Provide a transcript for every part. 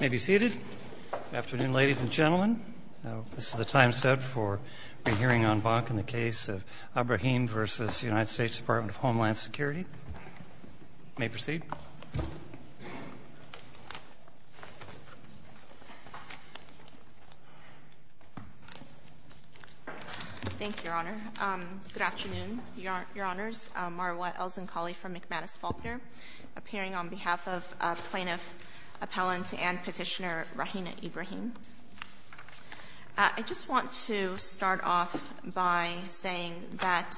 May be seated. Afternoon ladies and gentlemen. This is the time set for the hearing on Bach in the case of Ibrahim v. US Dept. of Homeland Security. May proceed. Thank you, Your Honor. Good afternoon, Your Honors. Marwa Elzenkhali from McManus Faulkner, appearing on behalf of plaintiff, appellant and petitioner Rahinah Ibrahim. I just want to start off by saying that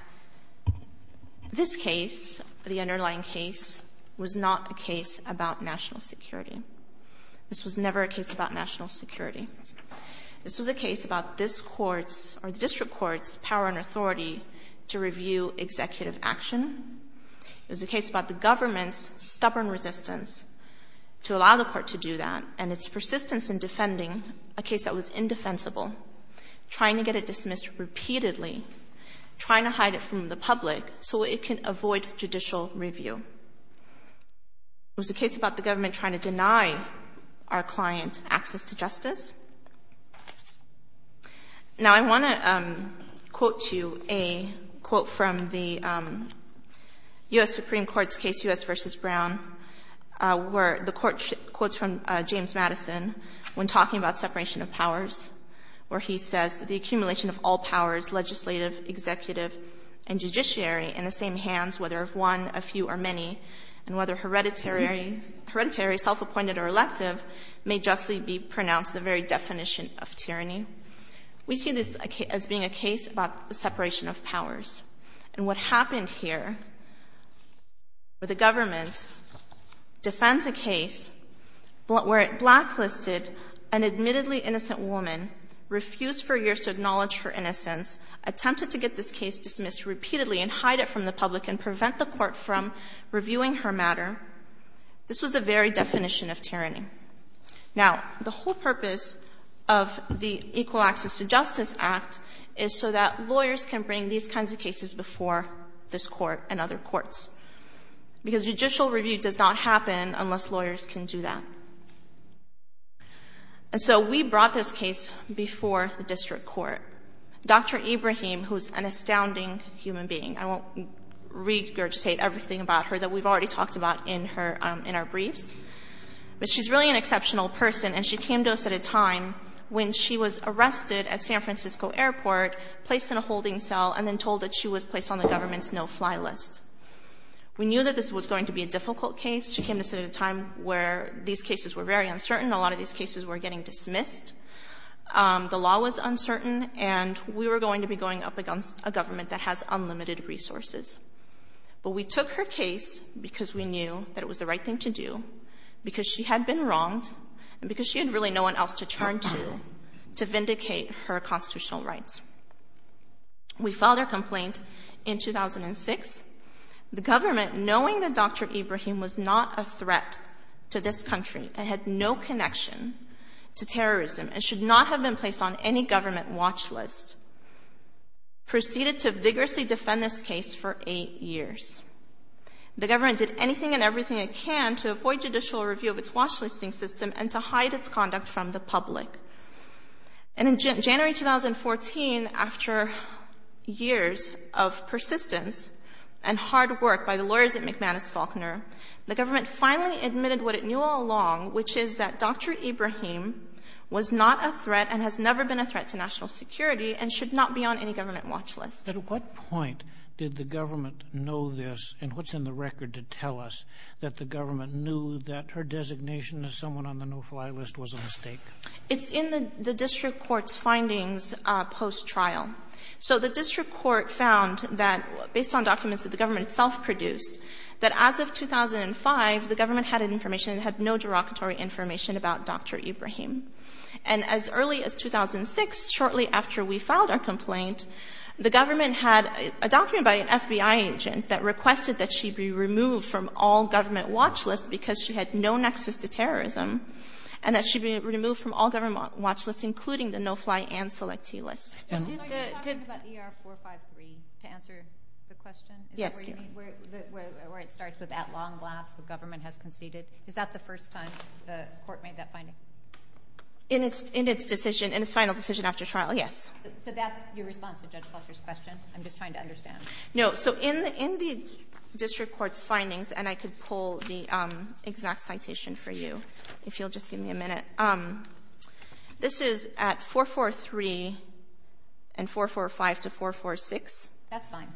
this case, the underlying case, was not the case about national security. This was never a case about national security. This was a case about district courts' power and authority to review executive action. It was a case about the government's stubborn resistance to allow the court to do that and its persistence in defending a case that was indefensible, trying to get it dismissed repeatedly, trying to hide it from the public so it can avoid judicial review. It was a case about the government trying to deny our clients access to justice. Now I want to quote to you a quote from the U.S. Supreme Court's case, U.S. v. Brown, where the court quotes from James Madison when talking about separation of powers, where he says, We see this as being a case about the separation of powers. And what happens here, the government defends a case where it blacklisted an admittedly innocent woman, refused for years to acknowledge her innocence, attempted to get this case dismissed repeatedly and hide it from the public and prevent the court from reviewing her matter. This was the very definition of tyranny. Now, the whole purpose of the Equal Access to Justice Act is so that lawyers can bring these kinds of cases before this court and other courts. Because judicial review does not happen unless lawyers can do that. And so we brought this case before the district court. Dr. Ibrahim, who is an astounding human being, I won't read or state everything about her that we've already talked about in our brief, but she's really an exceptional person. And she came to us at a time when she was arrested at San Francisco Airport, placed in a holding cell, and then told that she was placed on the government's no-fly list. We knew that this was going to be a difficult case. She came to us at a time where these cases were very uncertain. A lot of these cases were getting dismissed. The law was uncertain, and we were going to be going up against a government that has unlimited resources. But we took her case because we knew that it was the right thing to do, because she had been wronged, and because she had really no one else to turn to to vindicate her constitutional rights. We filed her complaint in 2006. The government, knowing that Dr. Ibrahim was not a threat to this country and had no connection to terrorism and should not have been placed on any government watch list, proceeded to vigorously defend this case for eight years. The government did anything and everything it can to avoid judicial review of its watch-listing system and to hide its conduct from the public. In January 2014, after years of persistence and hard work by the lawyers at McManus Faulkner, the government finally admitted what it knew all along, which is that Dr. Ibrahim was not a threat and has never been a threat to national security and should not be on any government watch list. At what point did the government know this, and what's in the record to tell us that the government knew that her designation as someone on the no-fly list was a mistake? It's in the district court's findings post-trial. The district court found that, based on documents that the government itself produced, that as of 2005, the government had no derogatory information about Dr. Ibrahim. As early as 2006, shortly after we filed our complaint, the government had a document by an FBI agent that requested that she be removed from all government watch lists because she had no nexus to terrorism, and that she be removed from all government watch lists, including the no-fly and selectee list. Are you talking about ER 453 to answer the question, where it starts with, at long last, the government has conceded? Is that the first time the court made that finding? In its final decision after trial, yes. So that's your response to Judge Faulkner's question? I'm just trying to understand. In the district court's findings, and I could pull the exact citation for you if you'll just give me a minute. This is at 443 and 445 to 446. That's fine.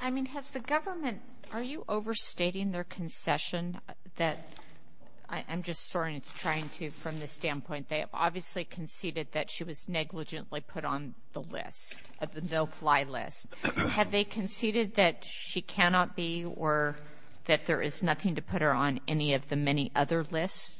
I mean, has the government – are you overstating their concession that – I'm just trying to, from this standpoint, they have obviously conceded that she was negligently put on the list, the no-fly list. Have they conceded that she cannot be or that there is nothing to put her on any of the many other lists?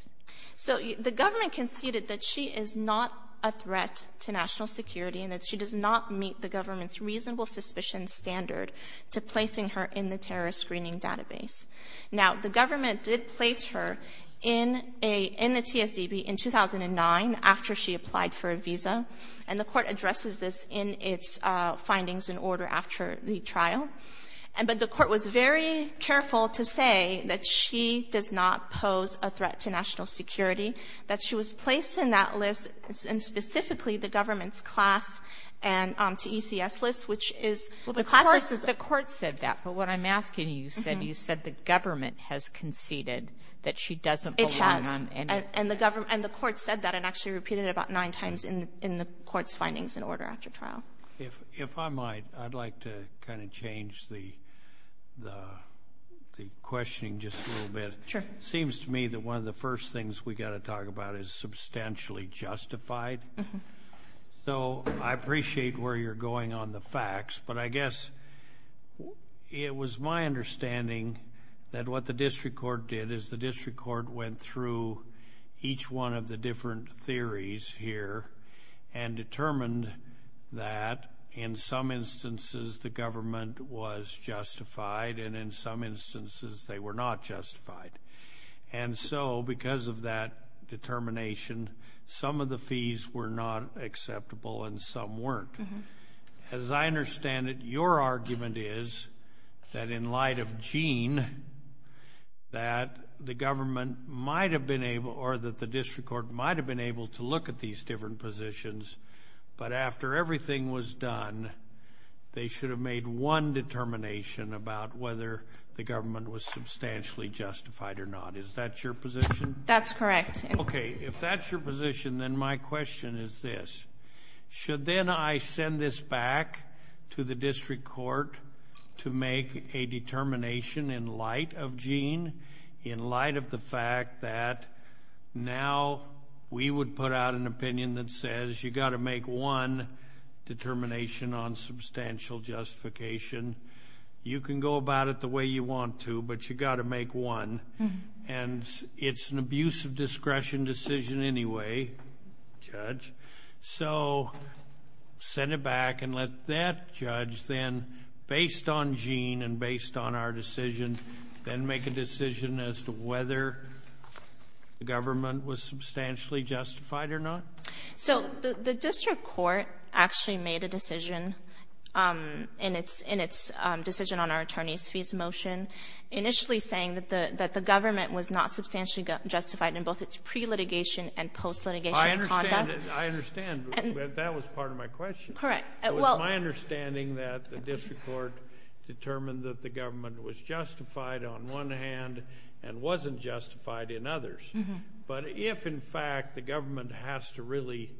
The government conceded that she is not a threat to national security and that she does not meet the government's reasonable suspicion standard to placing her in the terrorist screening database. Now, the government did place her in the CSDB in 2009 after she applied for a visa, and the court addresses this in its findings in order after the trial. But the court was very careful to say that she did not pose a threat to national security, that she was placed in that list, and specifically the government's CLAS and to ECS list, which is – Well, the court said that, but what I'm asking you is that you said the government has conceded that she doesn't belong on any – It has, and the court said that and actually repeated it about nine times in the court's findings in order after trial. If I might, I'd like to kind of change the questioning just a little bit. Sure. It seems to me that one of the first things we've got to talk about is substantially justified, so I appreciate where you're going on the facts, but I guess it was my understanding that what the district court did is the district court went through each one of the different theories here and determined that in some instances the government was justified and in some instances they were not justified. And so because of that determination, some of the fees were not acceptable and some weren't. As I understand it, your argument is that in light of Gene, that the government might have been able – or that the district court might have been able to look at these different positions, but after everything was done, they should have made one determination about whether the government was substantially justified or not. Is that your position? That's correct. Okay. If that's your position, then my question is this. Should then I send this back to the district court to make a determination in light of Gene, in light of the fact that now we would put out an opinion that says you've got to make one determination on substantial justification. You can go about it the way you want to, but you've got to make one. And it's an abuse of discretion decision anyway, Judge. So send it back and let that judge then, based on Gene and based on our decision, then make a decision as to whether the government was substantially justified or not? So the district court actually made a decision in its decision on our attorney's fees motion, initially saying that the government was not substantially justified in both its pre-litigation and post-litigation context. I understand, but that was part of my question. Correct. It was my understanding that the district court determined that the government was justified on one hand and wasn't justified in others. But if, in fact, the government has to really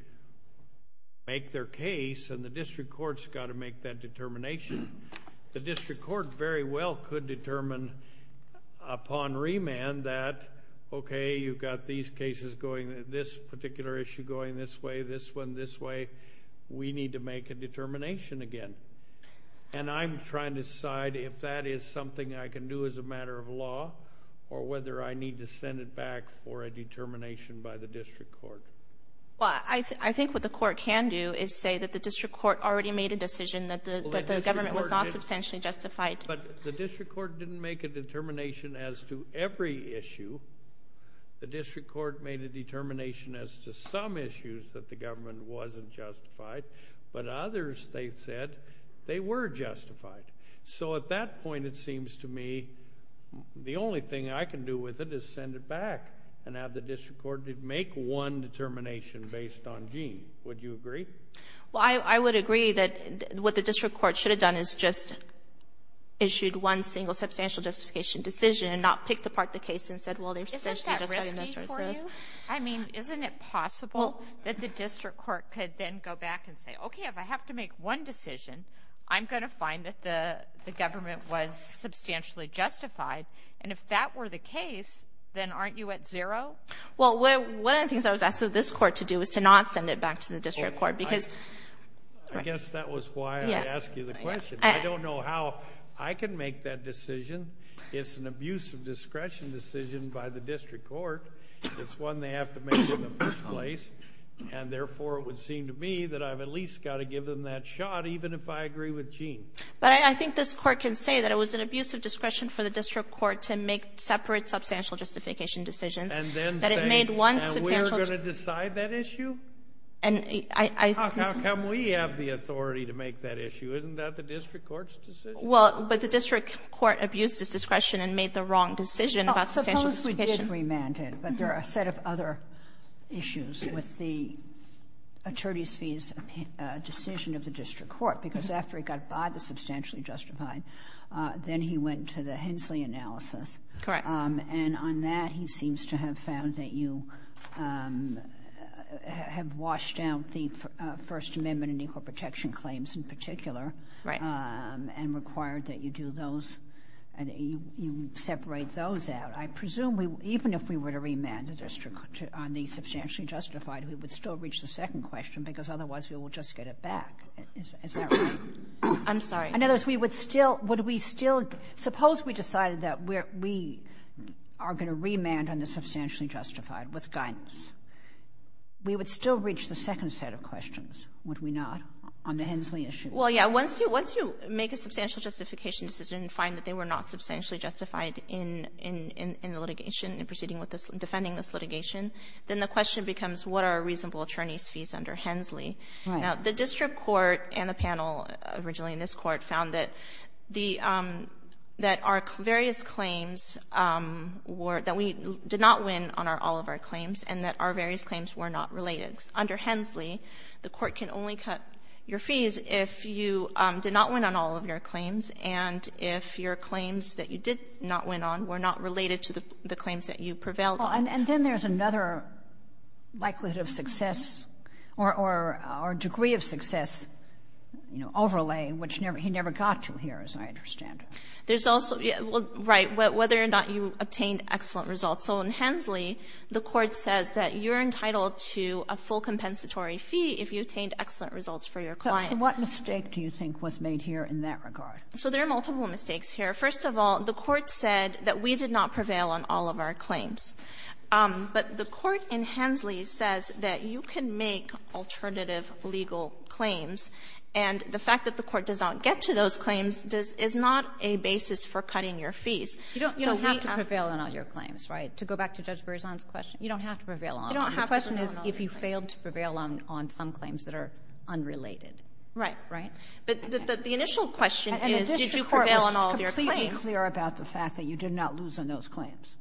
make their case and the district court's got to make that determination, the district court very well could determine upon remand that, okay, you've got these cases going, this particular issue going this way, this one this way, we need to make a determination again. And I'm trying to decide if that is something I can do as a matter of law or whether I need to send it back for a determination by the district court. Well, I think what the court can do is say that the district court already made a decision that the government was not substantially justified. But the district court didn't make a determination as to every issue. The district court made a determination as to some issues that the government wasn't justified, but others, they said, they were justified. So at that point, it seems to me, the only thing I can do with it is send it back and have the district court make one determination based on gene. Would you agree? Well, I would agree that what the district court should have done is just issued one single substantial justification decision and not picked apart the case and said, well, there's such and such and such. Isn't that risky for you? I mean, isn't it possible that the district court could then go back and say, okay, if I have to make one decision, I'm going to find that the government was substantially justified. And if that were the case, then aren't you at zero? Well, one of the things I was asking this court to do is to not send it back to the district court. I guess that was why I asked you the question. I don't know how I can make that decision. It's an abuse of discretion decision by the district court. It's one they have to make in the first place. And, therefore, it would seem to me that I've at least got to give them that shot, even if I agree with Gene. But I think this court can say that it was an abuse of discretion for the district court to make separate substantial justification decisions. And we're going to decide that issue? How come we have the authority to make that issue? Isn't that the district court's decision? Well, but the district court abused its discretion and made the wrong decision. But there are a set of other issues with the attorney's decision of the district court, because after it got substantially justified, then he went to the Hensley analysis. And on that, he seems to have found that you have washed down the First Amendment and equal protection claims in particular and required that you separate those out. I presume even if we were to remand the district court on the substantially justified, we would still reach the second question, because otherwise we would just get it back. Is that right? I'm sorry. In other words, suppose we decided that we are going to remand on the substantially justified with guidance. We would still reach the second set of questions, would we not, on the Hensley issue? Well, yeah. Once you make a substantial justification decision and find that they were not substantially justified in the litigation and proceeding with this, defending this litigation, then the question becomes, what are a reasonable attorney's fees under Hensley? Now, the district court and the panel originally in this court found that our various claims, that we did not win on all of our claims and that our various claims were not related. Under Hensley, the court can only cut your fees if you did not win on all of your claims and if your claims that you did not win on were not related to the claims that you prevailed on. And then there's another likelihood of success or degree of success, you know, overlay, which he never got to here, as I understand. There's also, right, whether or not you obtained excellent results. So in Hensley, the court says that you're entitled to a full compensatory fee if you obtained excellent results for your client. So what mistake do you think was made here in that regard? So there are multiple mistakes here. First of all, the court said that we did not prevail on all of our claims. But the court in Hensley says that you can make alternative legal claims, and the fact that the court does not get to those claims is not a basis for cutting your fees. You don't have to prevail on all your claims, right? To go back to Judge Berzon's question, you don't have to prevail on them. The question is if you failed to prevail on some claims that are unrelated. Right. Right? But the initial question is did you prevail on all of your claims? And the district court was completely clear about the fact that you did not lose on those claims.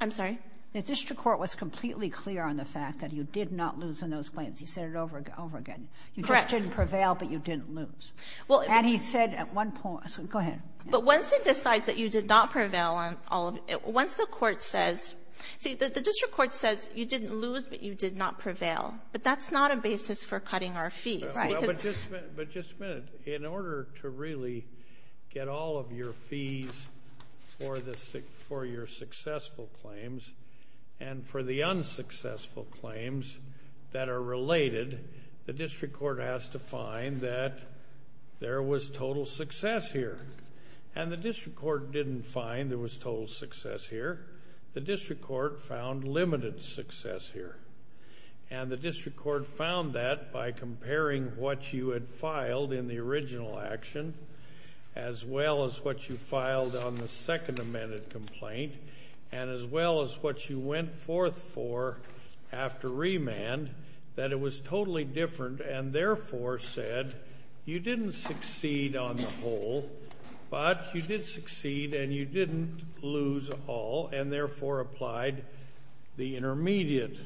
I'm sorry? The district court was completely clear on the fact that you did not lose on those claims. He said it over again. Correct. You just didn't prevail, but you didn't lose. And he said at one point, so go ahead. But once he decides that you did not prevail on all of it, once the court says – see, the district court says you didn't lose, but you did not prevail. But that's not a basis for cutting our fee, right? But just a minute. In order to really get all of your fees for your successful claims and for the unsuccessful claims that are related, the district court has to find that there was total success here. And the district court didn't find there was total success here. The district court found limited success here. And the district court found that by comparing what you had filed in the original action as well as what you filed on the second amended complaint and as well as what you went forth for after remand, that it was totally different and therefore said you didn't succeed on the whole, but you did succeed and you didn't lose all and therefore applied the intermediate.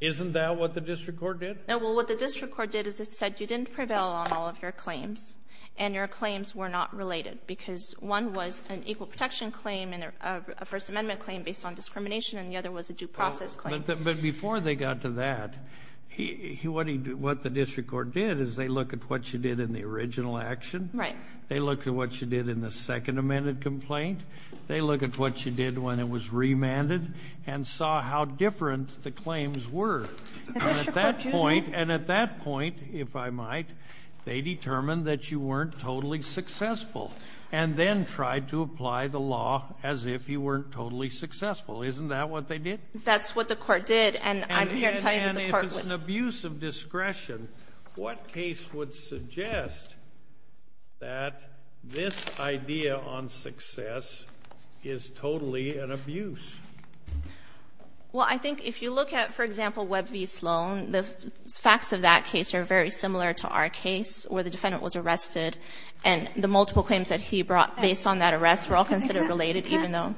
Isn't that what the district court did? Well, what the district court did is it said you didn't prevail on all of your claims and your claims were not related because one was an equal protection claim and a First Amendment claim based on discrimination and the other was a due process claim. But before they got to that, what the district court did is they looked at what you did in the original action, they looked at what you did in the second amended complaint, they looked at what you did when it was remanded and saw how different the claims were. And at that point, if I might, they determined that you weren't totally successful and then tried to apply the law as if you weren't totally successful. Isn't that what they did? That's what the court did. And if it's an abuse of discretion, what case would suggest that this idea on success is totally an abuse? Well, I think if you look at, for example, Webb v. Sloan, the facts of that case are very similar to our case where the defendant was arrested and the multiple claims that he brought based on that arrest were all considered related even though...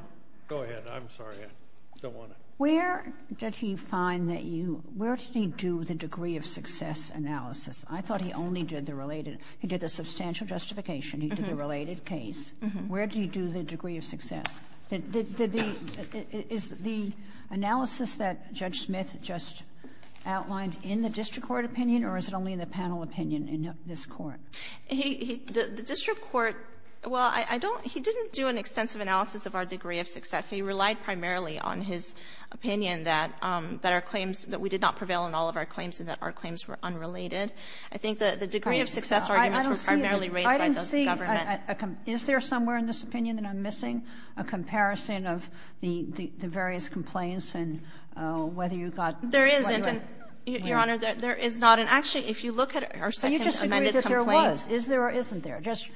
Go ahead. I'm sorry. I don't want to... Where did he find that you, where did he do the degree of success analysis? I thought he only did the related, he did the substantial justification, he did the related case. Where did he do the degree of success? Is the analysis that Judge Smith just outlined in the district court opinion or is it only in the panel opinion in this court? The district court, well, I don't, he didn't do an extensive analysis of our degree of success. He relied primarily on his opinion that our claims, that we did not prevail in all of our claims and that our claims were unrelated. I think the degree of success arguments were primarily raised by the government. Is there somewhere in this opinion, and I'm missing, a comparison of the various complaints and whether you thought... There isn't. Your Honor, there is not. Actually, if you look at our second amended complaint... You disagree that there was. Is there or isn't there? Judge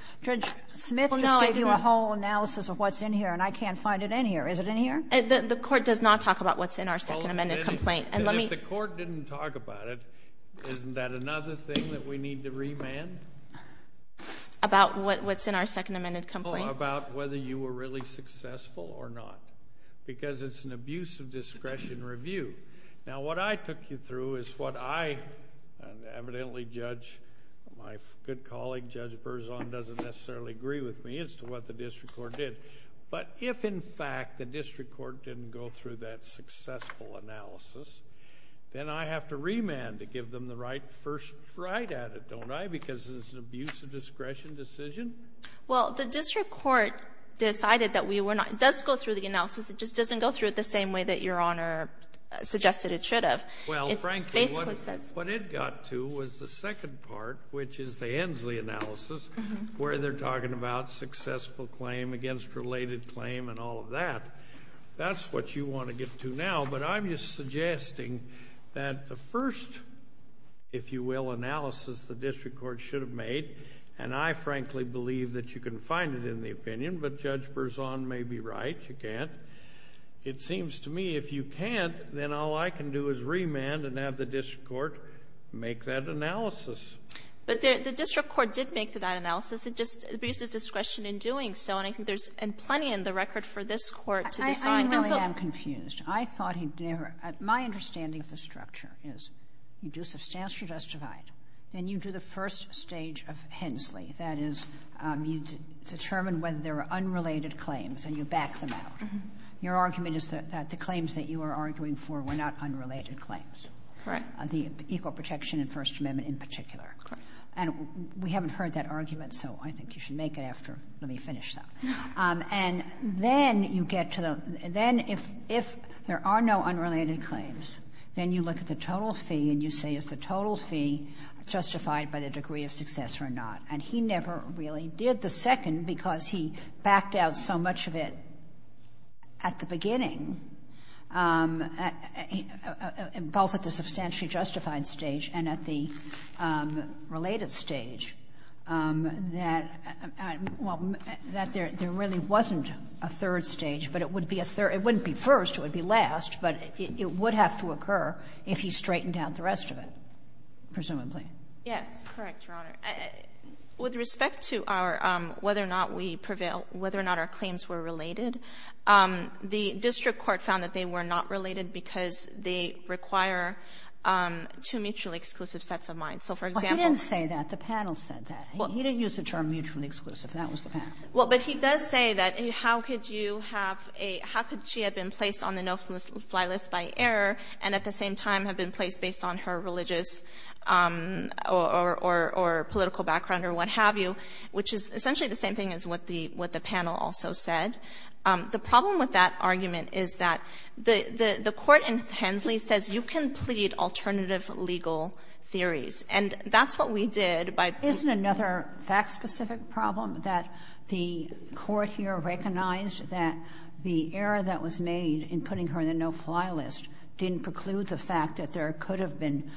Smith is giving a whole analysis of what's in here and I can't find it in here. Is it in here? The court does not talk about what's in our second amended complaint. If the court didn't talk about it, isn't that another thing that we need to remand? About what's in our second amended complaint? Oh, about whether you were really successful or not because it's an abuse of discretion review. Now, what I took you through is what I, and evidently Judge, my good colleague, Judge Berzon, doesn't necessarily agree with me as to what the district court did. But if, in fact, the district court didn't go through that successful analysis, then I have to remand to give them the first right at it, don't I, because it's an abuse of discretion decision? Well, the district court decided that we were not... It does go through the analysis, it just doesn't go through it the same way that Your Honor suggested it should have. Well, frankly, what it got to was the second part, which is the Hensley analysis, where they're talking about successful claim against related claim and all of that. That's what you want to get to now, but I'm just suggesting that the first, if you will, analysis the district court should have made, and I frankly believe that you can find it in the opinion, but Judge Berzon may be right. You can't. It seems to me if you can't, then all I can do is remand and have the district court make that analysis. But the district court did make that analysis. It's just abuse of discretion in doing so, and I think there's plenty in the record for this court to decide. I know that I'm confused. I thought he'd never... My understanding of the structure is you do substantial vestibule right, and you do the first stage of Hensley. That is, you determine whether there are unrelated claims, and you back them out. Your argument is that the claims that you are arguing for were not unrelated claims. Right. The equal protection in First Amendment in particular. Correct. And we haven't heard that argument, so I think you should make it after we finish that. And then you get to the... Then if there are no unrelated claims, then you look at the total fee, and you say is the total fee justified by the degree of success or not. And he never really did the second, because he backed out so much of it at the beginning, both at the substantially justified stage and at the related stage, that there really wasn't a third stage, but it wouldn't be first, it would be last, but it would have to occur if he straightened out the rest of it, presumably. Yeah, correct, Your Honor. With respect to whether or not we prevail, whether or not our claims were related, the district court found that they were not related because they require two mutually exclusive sets of minds. He didn't say that. The panel said that. He didn't use the term mutually exclusive. That was the panel. Well, but he does say that how could she have been placed on the no-fly list by error and at the same time have been placed based on her religious or political background or what have you, which is essentially the same thing as what the panel also said. The problem with that argument is that the court intends, it says you can plead alternative legal theories, and that's what we did by... Isn't another fact-specific problem that the court here recognized that the error that was made in putting her in the no-fly list didn't preclude the fact that there could have been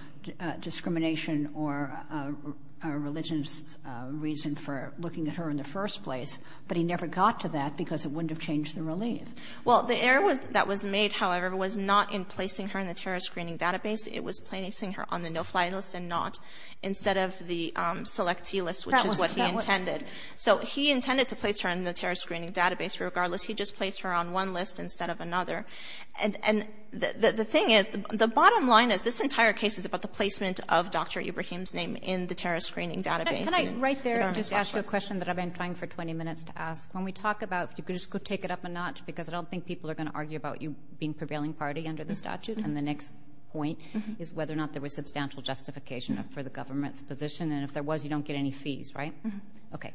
discrimination or a religious reason for looking at her in the first place, but he never got to that because it wouldn't have changed the relief. Well, the error that was made, however, was not in placing her in the terrorist screening database. It was placing her on the no-fly list rather than not instead of the selectee list, which is what he intended. So he intended to place her on the terrorist screening database. Regardless, he just placed her on one list instead of another. And the thing is, the bottom line of this entire case is about the placement of Dr. Ibrahim's name in the terrorist screening database. Can I right there just ask you a question that I've been trying for 20 minutes to ask? When we talk about, if you could just go take it up a notch because I don't think people are going to argue about you being prevailing party under the statute, and the next point is whether or not there was substantial justification for the government's position. And if there was, you don't get any fees, right? Okay.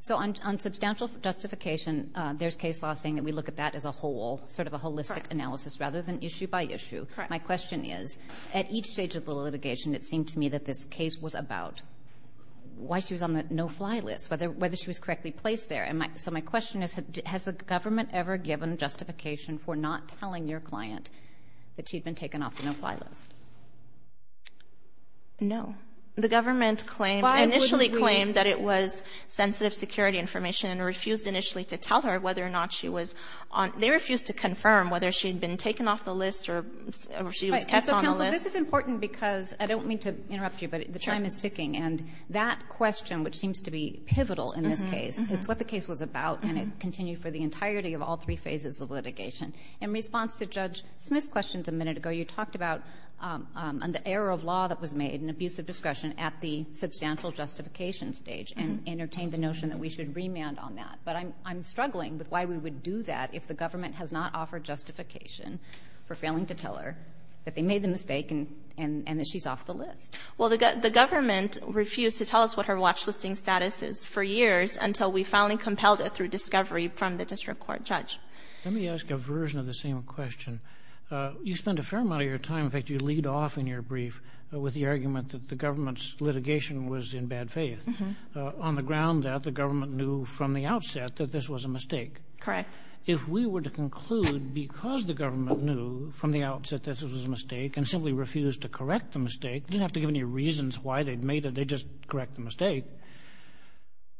So on substantial justification, there's case law saying that we look at that as a whole, sort of a holistic analysis rather than issue by issue. My question is, at each stage of the litigation, it seemed to me that this case was about why she was on the no-fly list, whether she was correctly placed there. So my question is, has the government ever given justification for not telling your client that she'd been taken off the no-fly list? No. The government initially claimed that it was sensitive security information and refused initially to tell her whether or not she was on. They refused to confirm whether she had been taken off the list or she was kept on the list. This is important because, I don't mean to interrupt you, but the time is ticking, and that question, which seems to be pivotal in this case, is what the case was about, and it continued for the entirety of all three phases of litigation. In response to Judge Smith's questions a minute ago, you talked about the error of law that was made and abusive discretion at the substantial justification stage and entertained the notion that we should remand on that. But I'm struggling with why we would do that if the government has not offered justification for failing to tell her that they made the mistake and that she's off the list. Well, the government refused to tell us what her watch listing status is for years until we finally compelled it through discovery from the district court judge. Let me ask a version of the same question. You spend a fair amount of your time, in fact, you lead off in your brief with the argument that the government's litigation was in bad faith on the ground that the government knew from the outset that this was a mistake. Correct. If we were to conclude, because the government knew from the outset that this was a mistake and simply refused to correct the mistake, they didn't have to give any reasons why they'd made it, they'd just correct the mistake,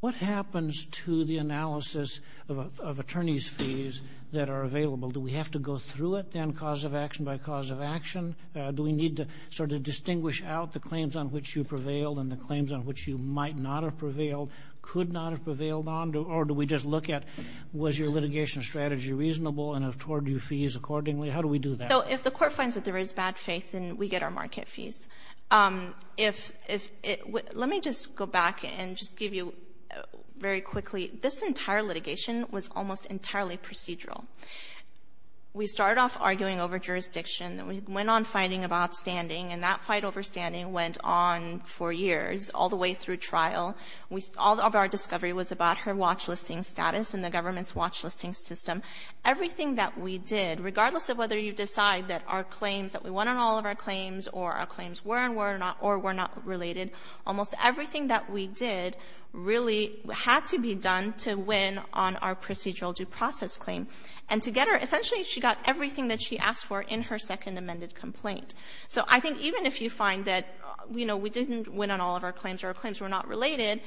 what happens to the analysis of attorney's fees that are available? Do we have to go through it, then, cause of action by cause of action? Do we need to sort of distinguish out the claims on which you prevailed and the claims on which you might not have prevailed, could not have prevailed on, or do we just look at was your litigation strategy reasonable and afford you fees accordingly? How do we do that? If the court finds that there is bad faith, then we get our market fees. Let me just go back and just give you very quickly, this entire litigation was almost entirely procedural. We started off arguing over jurisdiction. We went on fighting about standing, and that fight over standing went on for years, all the way through trial. All of our discovery was about her watch listing status and the government's watch listing system. Everything that we did, regardless of whether you decide that our claims, that we won on all of our claims or our claims were or were not related, almost everything that we did really had to be done to win on our procedural due process claim. Essentially, she got everything that she asked for in her second amended complaint. I think even if you find that we didn't win on all of our claims or our claims were not related,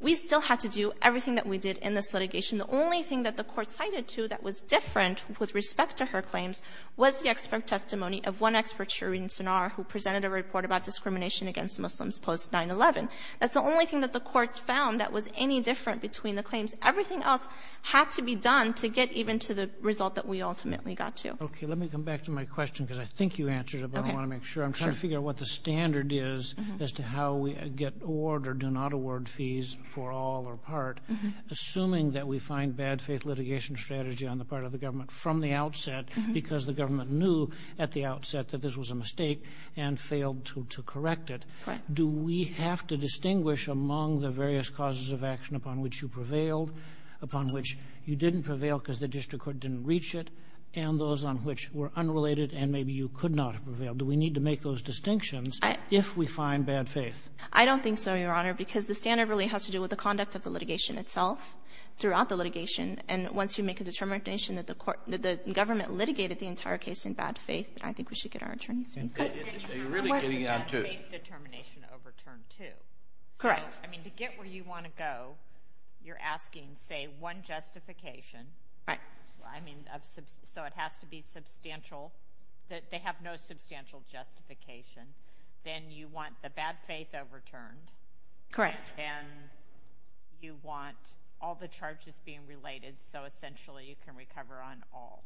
we still had to do everything that we did in this litigation. The only thing that the court cited, too, that was different with respect to her claims was the expert testimony of one expert jury in Sanar who presented a report about discrimination against Muslims post-9-11. That's the only thing that the courts found that was any different between the claims. Everything else had to be done to get even to the result that we ultimately got to. Okay, let me come back to my question, because I think you answered it, but I want to make sure. I'm trying to figure out what the standard is as to how we get award or do not award fees for all or part, assuming that we find bad faith litigation strategy on the part of the government from the outset because the government knew at the outset that this was a mistake and failed to correct it. Do we have to distinguish among the various causes of action upon which you prevailed, upon which you didn't prevail because the district court didn't reach it, and those on which were unrelated and maybe you could not have prevailed? Do we need to make those distinctions if we find bad faith? I don't think so, Your Honor, because the standard really has to do with the conduct of the litigation itself throughout the litigation. And once you make a determination that the government litigated the entire case in bad faith, I think we should get our attorneys. You're really getting down to it. Once you make a determination overturned too. Correct. I mean, to get where you want to go, you're asking, say, one justification. Right. I mean, so it has to be substantial. They have no substantial justification. Then you want the bad faith overturned. Correct. Then you want all the charges being related so essentially you can recover on all.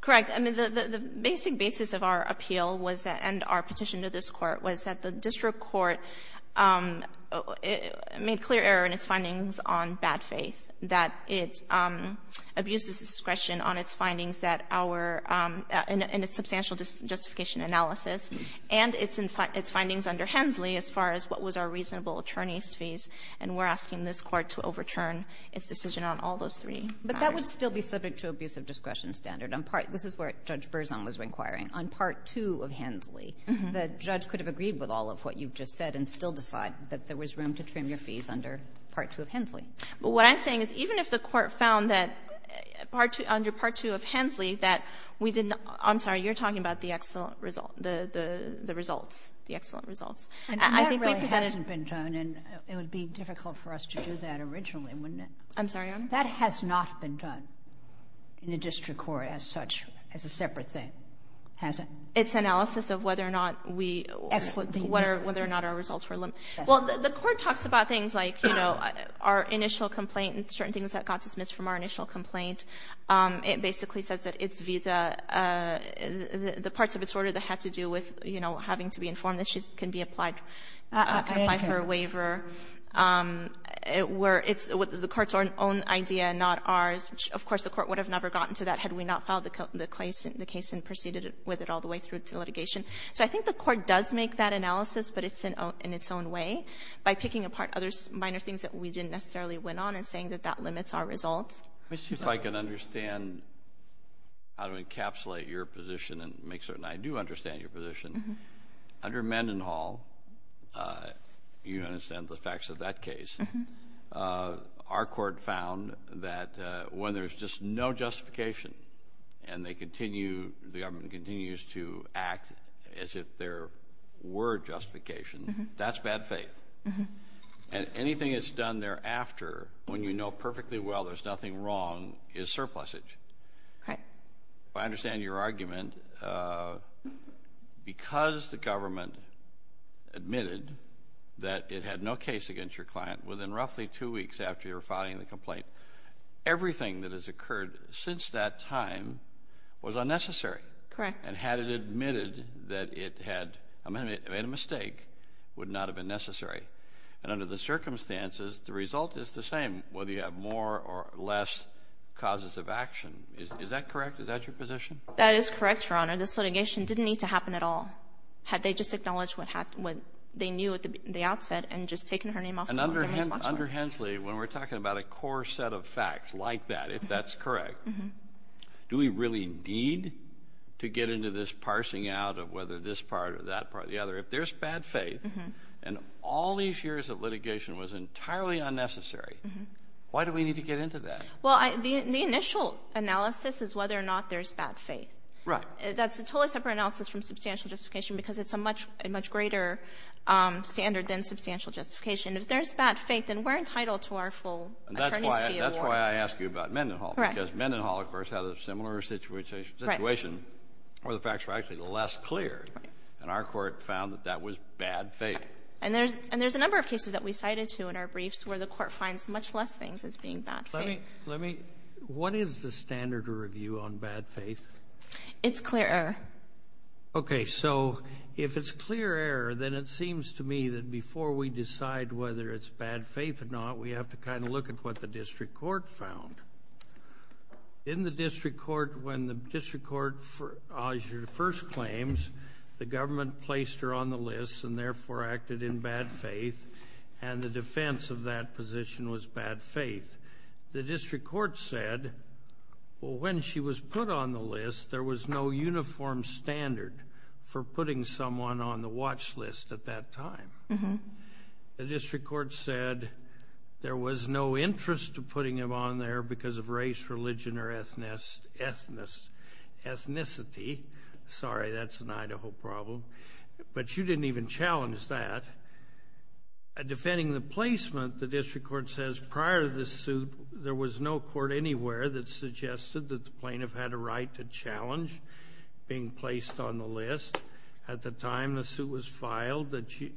Correct. I mean, the basic basis of our appeal and our petition to this court was that the district court made clear error in its findings on bad faith, that it abuses discretion in its substantial justification analysis and its findings under Hensley as far as what was a reasonable attorney's fees, and we're asking this court to overturn its decision on all those three. But that would still be subject to abuse of discretion standard. This is where Judge Berzon was inquiring. On Part 2 of Hensley, the judge could have agreed with all of what you've just said and still decided that there was room to trim your fees under Part 2 of Hensley. But what I'm saying is even if the court found that under Part 2 of Hensley that we didn't I'm sorry, you're talking about the excellent results. That hasn't been done, and it would be difficult for us to do that originally, wouldn't it? I'm sorry? That has not been done in the district court as such, as a separate thing. It's analysis of whether or not our results were limited. Well, the court talks about things like our initial complaint and certain things that got dismissed from our initial complaint. It basically says that the parts of its order that had to do with having to be informed that she can apply for a waiver were the court's own idea, not ours. Of course, the court would have never gotten to that had we not filed the case and proceeded with it all the way through to litigation. So I think the court does make that analysis, but it's in its own way, by picking apart other minor things that we didn't necessarily win on and saying that that limits our results. Let me see if I can understand how to encapsulate your position and make certain I do understand your position. Under Mendenhall, you understand the facts of that case. Our court found that when there's just no justification and the government continues to act as if there were justification, that's bad faith. And anything that's done thereafter, when you know perfectly well there's nothing wrong, is surplusage. If I understand your argument, because the government admitted that it had no case against your client, within roughly two weeks after you were filing the complaint, everything that has occurred since that time was unnecessary. Correct. And had it admitted that it had made a mistake, would not have been necessary. But under the circumstances, the result is the same, whether you have more or less causes of action. Is that correct? Is that your position? That is correct, Your Honor. This litigation didn't need to happen at all. Had they just acknowledged what happened, what they knew at the outset, and just taken her name off the list of responsible. And under Hensley, when we're talking about a core set of facts like that, if that's correct, do we really need to get into this parsing out of whether this part or that part or the other? If there's bad faith, and all these years of litigation was entirely unnecessary, why do we need to get into that? Well, the initial analysis is whether or not there's bad faith. Right. That's a totally separate analysis from substantial justification, because it's a much greater standard than substantial justification. That's why I asked you about Mendenhall, because Mendenhall, of course, had a similar situation where the facts were actually less clear. And our court found that that was bad faith. And there's a number of cases that we cited, too, in our briefs, where the court finds much less things as being bad faith. What is the standard of review on bad faith? It's clear error. Okay. So if it's clear error, then it seems to me that before we decide whether it's bad faith or not, we have to kind of look at what the district court found. In the district court, when the district court first claims, the government placed her on the list and therefore acted in bad faith, and the defense of that position was bad faith. The district court said, well, when she was put on the list, there was no uniform standard for putting someone on the watch list at that time. The district court said there was no interest in putting them on there because of race, religion, or ethnicity. Sorry, that's an Idaho problem. But you didn't even challenge that. Defending the placement, the district court says prior to the suit, there was no court anywhere that suggested that the plaintiff had a right to challenge being placed on the list. At the time the suit was filed,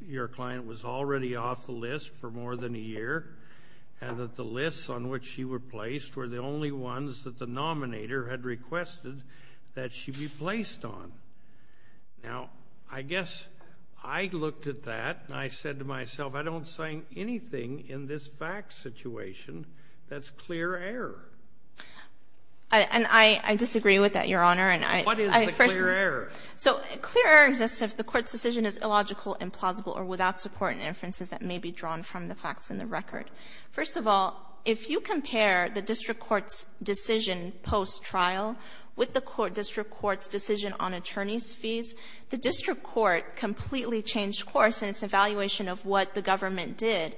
your client was already off the list for more than a year and that the lists on which she was placed were the only ones that the nominator had requested that she be placed on. Now, I guess I looked at that and I said to myself, I don't find anything in this back situation that's clear error. And I disagree with that, Your Honor. What is the clear error? So clear error is if the court's decision is illogical, implausible, or without support and inferences that may be drawn from the facts in the record. First of all, if you compare the district court's decision post-trial with the district court's decision on attorney's fees, the district court completely changed course in its evaluation of what the government did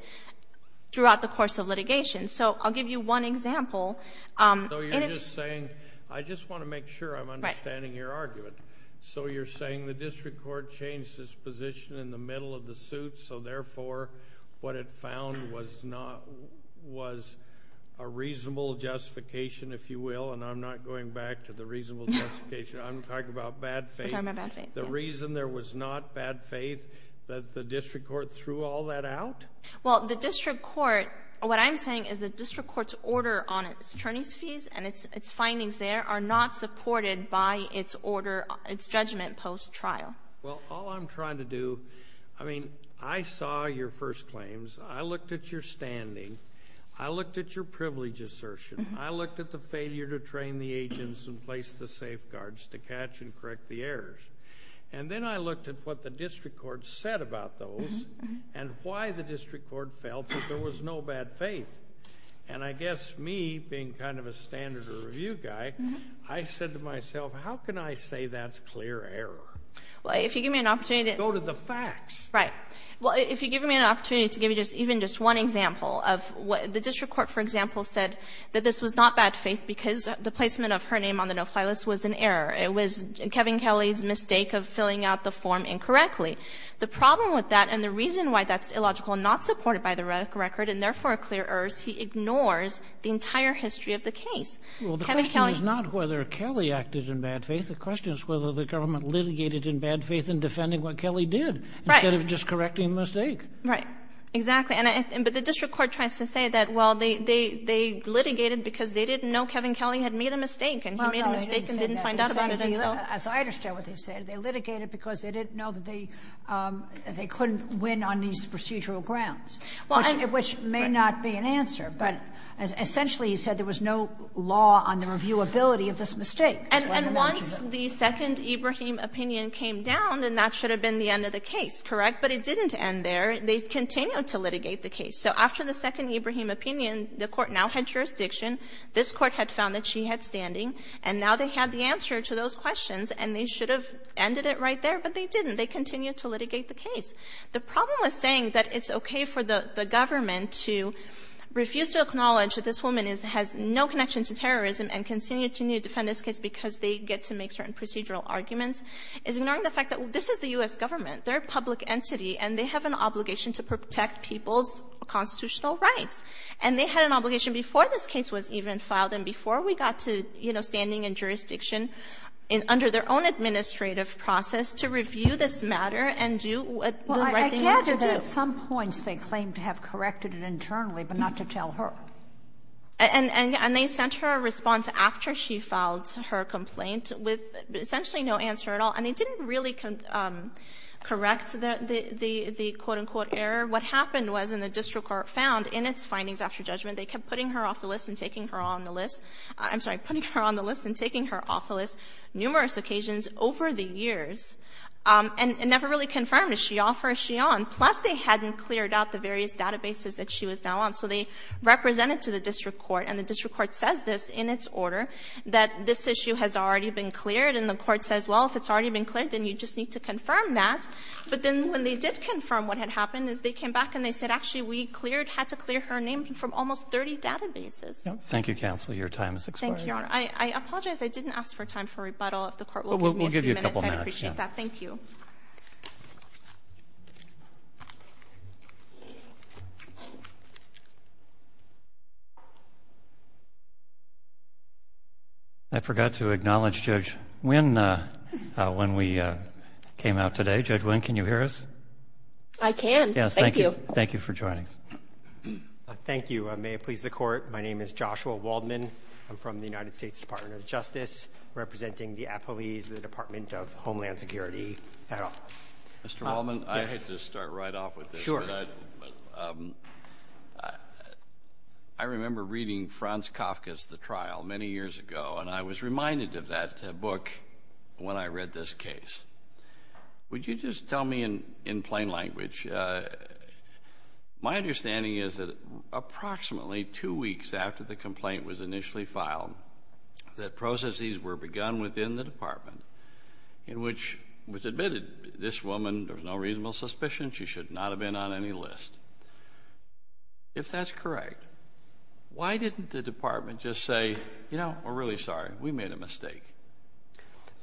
throughout the course of litigation. So I'll give you one example. So you're just saying, I just want to make sure I'm understanding your argument. So you're saying the district court changed its position in the middle of the suit, so therefore what it found was a reasonable justification, if you will, and I'm not going back to the reasonable justification. I'm talking about bad faith. The reason there was not bad faith that the district court threw all that out? Well, the district court, what I'm saying is the district court's order on its attorney's fees and its findings there are not supported by its order, its judgment post-trial. Well, all I'm trying to do, I mean, I saw your first claims. I looked at your standing. I looked at your privilege assertion. I looked at the failure to train the agents and place the safeguards to catch and correct the errors. And then I looked at what the district court said about those and why the district court felt that there was no bad faith. And I guess me, being kind of a standard review guy, I said to myself, how can I say that's clear error? Go to the facts. Right. Well, if you give me an opportunity to give you even just one example, the district court, for example, said that this was not bad faith because the placement of her name on the no-fly list was an error. It was Kevin Kelly's mistake of filling out the form incorrectly. The problem with that and the reason why that's illogical and not supported by the record and therefore a clear error is he ignores the entire history of the case. Well, the question is not whether Kelly acted in bad faith. The question is whether the government litigated in bad faith in defending what Kelly did instead of just correcting the mistake. Right. Exactly. But the district court tries to say that, well, they litigated because they didn't know Kevin Kelly had made a mistake and he made a mistake and didn't find out about it. As I understand what they said, they litigated because they didn't know that they couldn't win on these procedural grounds, which may not be an answer. But essentially he said there was no law on the reviewability of this mistake. And once the second Ibrahim opinion came down, then that should have been the end of the case, correct? But it didn't end there. They continued to litigate the case. So after the second Ibrahim opinion, the court now had jurisdiction. This court had found that she had standing, and now they had the answer to those questions, and they should have ended it right there, but they didn't. They continued to litigate the case. The problem with saying that it's okay for the government to refuse to acknowledge that this woman has no connection to terrorism and continue to defend this case because they get to make certain procedural arguments is ignoring the fact that this is the U.S. government. They're a public entity, and they have an obligation to protect people's constitutional rights. And they had an obligation before this case was even filed and before we got to standing and jurisdiction under their own administrative process to review this matter and do what they had to do. Well, I gather that at some point they claimed to have corrected it internally, but not to tell her. And they sent her a response after she filed her complaint with essentially no answer at all. And they didn't really correct the quote-unquote error. What happened was when the district court found in its findings after judgment, they kept putting her off the list and taking her off the list numerous occasions over the years and never really confirmed, is she off or is she on? Plus they hadn't cleared out the various databases that she was now on. So they represented to the district court, and the district court says this in its order, that this issue has already been cleared, and the court says, well, if it's already been cleared, then you just need to confirm that. But then when they did confirm what had happened is they came back and they said, actually, we had to clear her name from almost 30 databases. Thank you, counsel. Your time is expiring. I apologize. I didn't ask for time for rebuttal. We'll give you a couple minutes. I appreciate that. Thank you. I forgot to acknowledge Judge Wynn when we came out today. Judge Wynn, can you hear us? I can. Thank you. Thank you for joining us. Thank you. May it please the court, my name is Joshua Waldman. I'm from the United States Department of Justice, representing the appellees of the Department of Homeland Security. Mr. Waldman, I hate to start right off with this, but I remember reading Franz Kafka's The Trial many years ago, and I was reminded of that book when I read this case. Would you just tell me in plain language, my understanding is that approximately two weeks after the complaint was initially filed, that processes were begun within the department in which it was admitted, this woman, there's no reasonable suspicion, she should not have been on any list. If that's correct, why didn't the department just say, you know, we're really sorry, we made a mistake?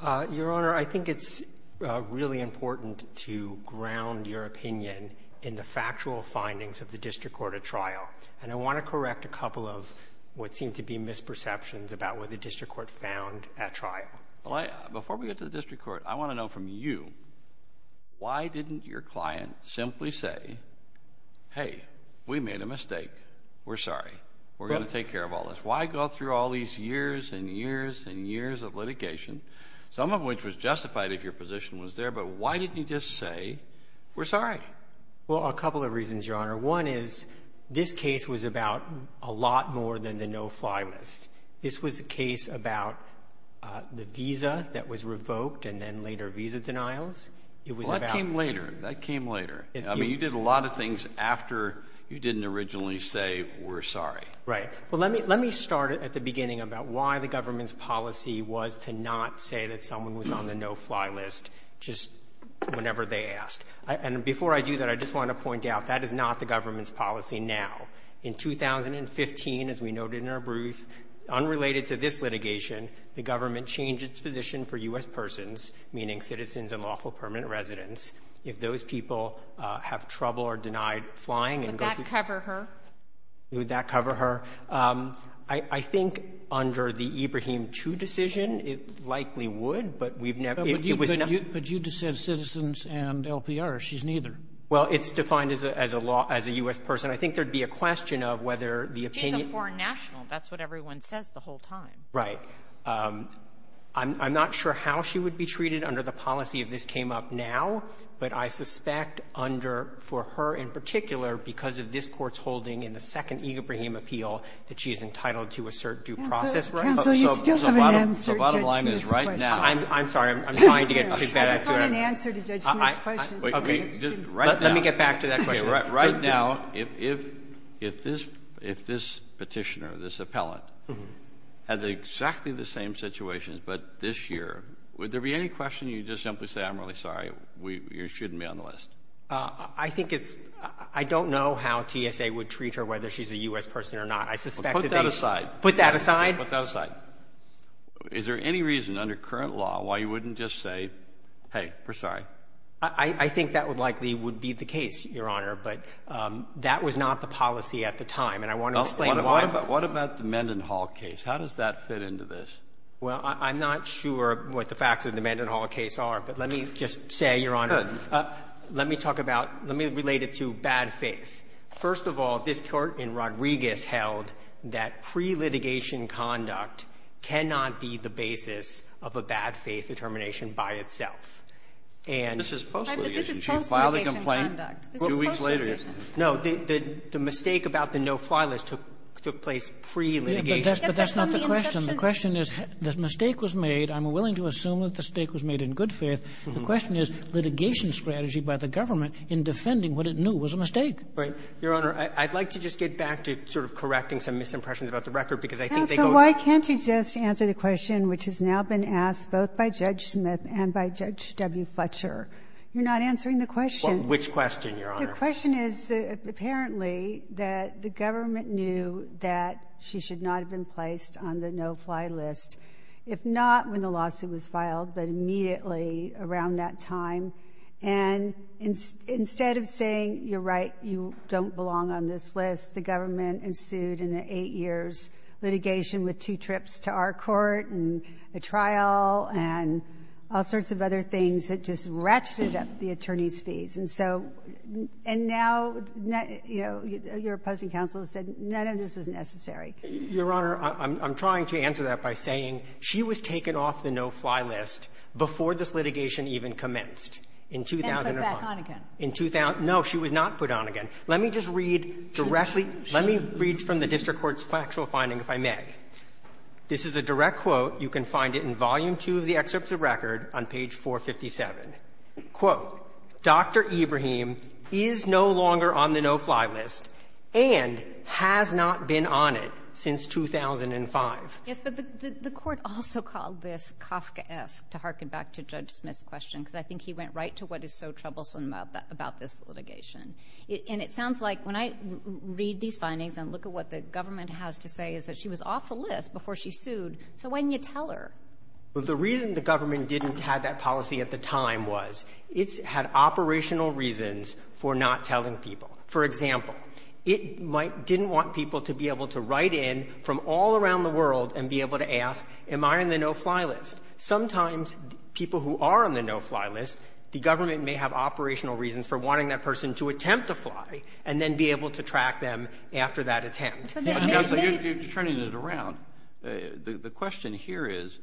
Your Honor, I think it's really important to ground your opinion in the factual findings of the district court of trial, and I want to correct a couple of what seem to be misperceptions about what the district court found at trial. Before we get to the district court, I want to know from you, why didn't your client simply say, hey, we made a mistake, we're sorry, we're going to take care of all this? Why go through all these years and years and years of litigation, some of which was justified if your position was there, but why didn't you just say, we're sorry? Well, a couple of reasons, Your Honor. One is, this case was about a lot more than the no-fly list. This was a case about the visa that was revoked and then later visa denials. Well, that came later. That came later. I mean, you did a lot of things after you didn't originally say, we're sorry. Right. Well, let me start at the beginning about why the government's policy was to not say that someone was on the no-fly list just whenever they asked. And before I do that, I just want to point out, that is not the government's policy now. In 2015, as we noted in our brief, unrelated to this litigation, the government changed its position for U.S. persons, meaning citizens and lawful permanent residents, if those people have trouble or are denied flying. Would that cover her? Would that cover her? I think under the Ibrahim Chu decision, it likely would, but we've never – But you just said citizens and LPR. She's neither. Well, it's defined as a U.S. person. I think there would be a question of whether the – She's a foreign national. That's what everyone says the whole time. Right. I'm not sure how she would be treated under the policy if this came up now, but I suspect for her in particular, because of this court's holding in the second Ibrahim appeal that she is entitled to a certain due process. The bottom line is right now. I'm sorry. I'm trying to get to that. I don't have an answer to Judge Smith's question. Let me get back to that question. Right now, if this petitioner, this appellant, has exactly the same situations but this year, would there be any question you just simply say, I'm really sorry, you shouldn't be on the list? I think it's – I don't know how TSA would treat her, whether she's a U.S. person or not. Put that aside. Put that aside? Put that aside. Is there any reason under current law why you wouldn't just say, hey, we're sorry? I think that would likely be the case, Your Honor, but that was not the policy at the time, and I want to explain why. What about the Mendenhall case? How does that fit into this? Well, I'm not sure what the facts of the Mendenhall case are, but let me just say, Your Honor, let me talk about – let me relate it to bad faith. First of all, this court in Rodriguez held that pre-litigation conduct cannot be the basis of a bad faith determination by itself. And – This is post litigation. She filed a complaint two weeks later. No, the mistake about the no filers took place pre-litigation. But that's not the question. The question is, the mistake was made. I'm willing to assume that the mistake was made in good faith. The question is, litigation strategy by the government in defending what it knew was a mistake. Right. Your Honor, I'd like to just get back to sort of correcting some misimpressions about the record, because I think they go – Counsel, why can't you just answer the question which has now been asked both by Judge Smith and by Judge W. Fletcher? You're not answering the question. Which question, Your Honor? The question is, apparently, that the government knew that she should not have been placed on the no-fly list, if not when the lawsuit was filed, but immediately around that time. And instead of saying, you're right, you don't belong on this list, the government ensued in the eight years litigation with two trips to our court and a trial and all sorts of other things that just ratcheted up the attorney's fees. And so – and now, you know, your opposing counsel has said none of this is necessary. Your Honor, I'm trying to answer that by saying she was taken off the no-fly list before this litigation even commenced. And put back on again. No, she was not put on again. Let me just read directly – let me read from the district court's factual finding, if I may. This is a direct quote. You can find it in volume two of the excerpts of record on page 457. Quote, Dr. Ibrahim is no longer on the no-fly list and has not been on it since 2005. Yes, but the court also called this Kafkaesque, to hearken back to Judge Smith's question, because I think he went right to what is so troublesome about this litigation. And it sounds like, when I read these findings and look at what the government has to say, is that she was off the list before she sued, so why didn't you tell her? Well, the reason the government didn't have that policy at the time was it had operational reasons for not telling people. For example, it didn't want people to be able to write in from all around the world and be able to ask, am I on the no-fly list? Sometimes people who are on the no-fly list, the government may have operational reasons for wanting that person to attempt to fly and then be able to track them after that attempt. You're turning it around. The question here is,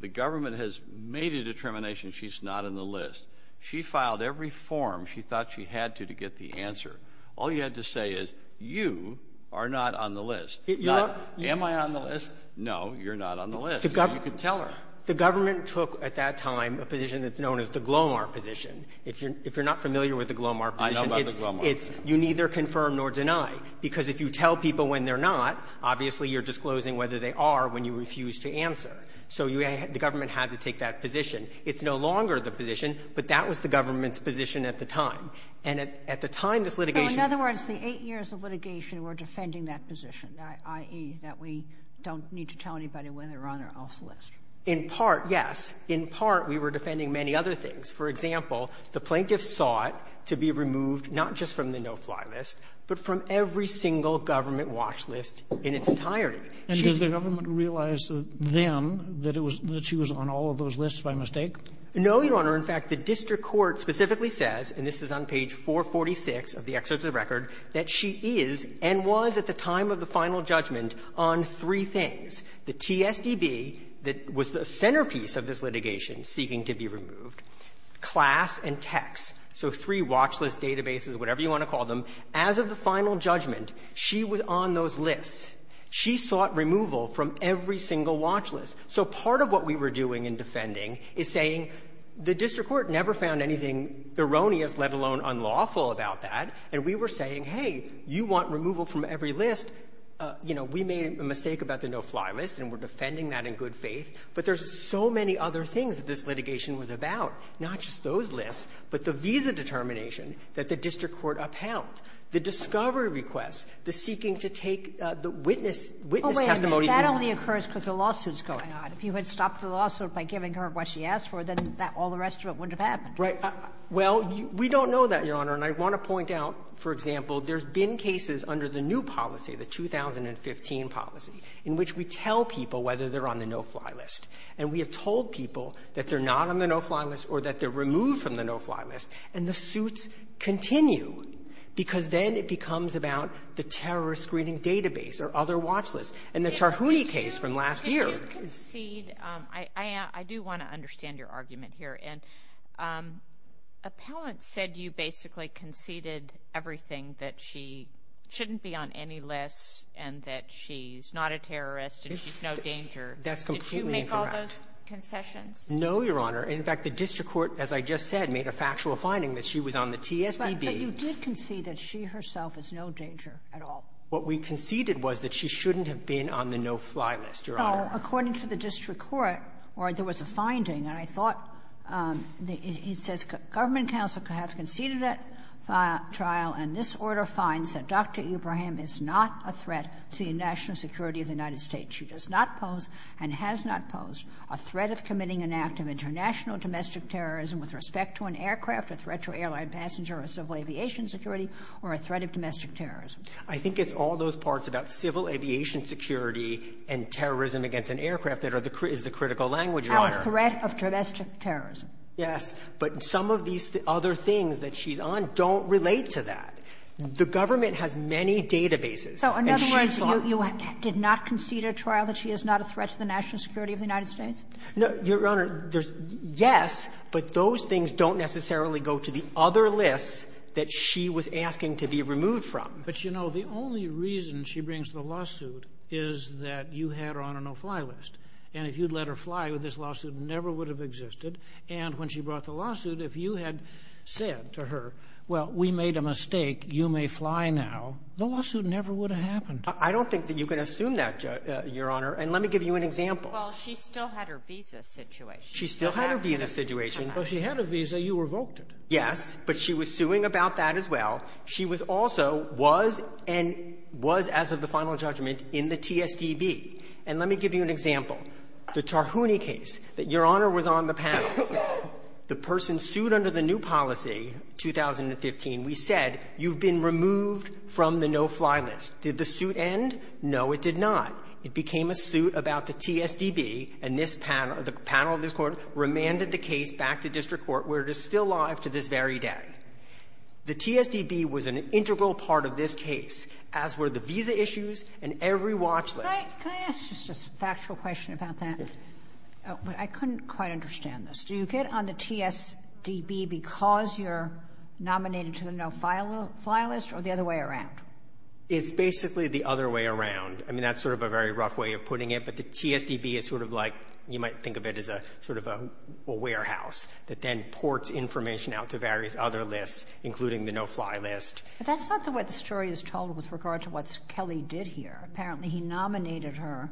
the government has made a determination she's not on the list. She filed every form she thought she had to to get the answer. All you had to say is, you are not on the list. Am I on the list? No, you're not on the list. You didn't tell her. The government took, at that time, a position that's known as the Glomar position. If you're not familiar with the Glomar position, it's you neither confirm nor deny, because if you tell people when they're not, obviously you're disclosing whether they are when you refuse to answer. So the government had to take that position. It's no longer the position, but that was the government's position at the time. And at the time this litigation was going on. In other words, for eight years of litigation, we're defending that position, i.e., that we don't need to tell anybody when they're on or off the list. In part, yes. In part, we were defending many other things. For example, the plaintiffs sought to be removed not just from the no-fly list, but from every single government watch list in its entirety. And did the government realize then that she was on all of those lists by mistake? No, Your Honor. In fact, the district court specifically says, and this is on page 446 of the excerpt of the record, that she is and was at the time of the final judgment on three things. The TSDB was the centerpiece of this litigation seeking to be removed. Class and text. So three watch list databases, whatever you want to call them. As of the final judgment, she was on those lists. She sought removal from every single watch list. So part of what we were doing in defending is saying, the district court never found anything erroneous, let alone unlawful, about that. And we were saying, hey, you want removal from every list. You know, we made a mistake about the no-fly list, and we're defending that in good faith. But there's so many other things this litigation was about. Not just those lists, but the visa determination that the district court upheld. The discovery request. The seeking to take the witness testimony. Wait a minute. That only occurs because the lawsuit's going on. If you had stopped the lawsuit by giving her what she asked for, then all the rest of it wouldn't have happened. Right. Well, we don't know that, Your Honor. And I want to point out, for example, there's been cases under the new policy, the 2015 policy, in which we tell people whether they're on the no-fly list. And we have told people that they're not on the no-fly list or that they're removed from the no-fly list. And the suits continue. Because then it becomes about the terrorist screening database or other watch lists. And the Charhouni case from last year. See, I do want to understand your argument here. Appellant said you basically conceded everything, that she shouldn't be on any list and that she's not a terrorist and she's no danger. That's completely incorrect. Did she make all those confessions? No, Your Honor. In fact, the district court, as I just said, made a factual finding that she was on the TSBB. But you did concede that she herself is no danger at all. What we conceded was that she shouldn't have been on the no-fly list, Your Honor. No, according to the district court, or there was a finding, and I thought he says government counsel has conceded that trial and this order finds that Dr. Ibrahim is not a threat to the national security of the United States. She does not pose and has not posed a threat of committing an act of international domestic terrorism with respect to an aircraft, a threat to an airline passenger or civil aviation security or a threat of domestic terrorism. I think it's all those parts about civil aviation security and terrorism against an aircraft that is the critical language, Your Honor. A threat of domestic terrorism. Yes, but some of these other things that she's on don't relate to that. The government has many databases. So, in other words, you did not concede at trial that she is not a threat to the national security of the United States? No, Your Honor, yes, but those things don't necessarily go to the other list that she was asking to be removed from. But, you know, the only reason she brings the lawsuit is that you had her on a no-fly list. And if you'd let her fly, this lawsuit never would have existed. And when she brought the lawsuit, if you had said to her, well, we made a mistake, you may fly now, the lawsuit never would have happened. I don't think that you can assume that, Your Honor, and let me give you an example. Well, she still had her visa situation. She still had her visa situation. Well, she had a visa, you revoked it. Yes, but she was suing about that as well. She was also, was, and was, as of the final judgment, in the TSDB. And let me give you an example. The Tarhouni case that Your Honor was on the panel. The person sued under the new policy, 2015, we said, you've been removed from the no-fly list. Did the suit end? No, it did not. It became a suit about the TSDB, and this panel, the panel of this Court, remanded the case back to district court where it is still alive to this very day. The TSDB was an integral part of this case, as were the visa issues and every watch list. Can I ask just a factual question about that? Yes. I couldn't quite understand this. Do you get on the TSDB because you're nominated to the no-fly list or the other way around? It's basically the other way around. I mean, that's sort of a very rough way of putting it, but the TSDB is sort of like, you might think of it as sort of a warehouse that then ports information out to various other lists, including the no-fly list. But that's not what the story is told with regard to what Kelly did here. Apparently he nominated her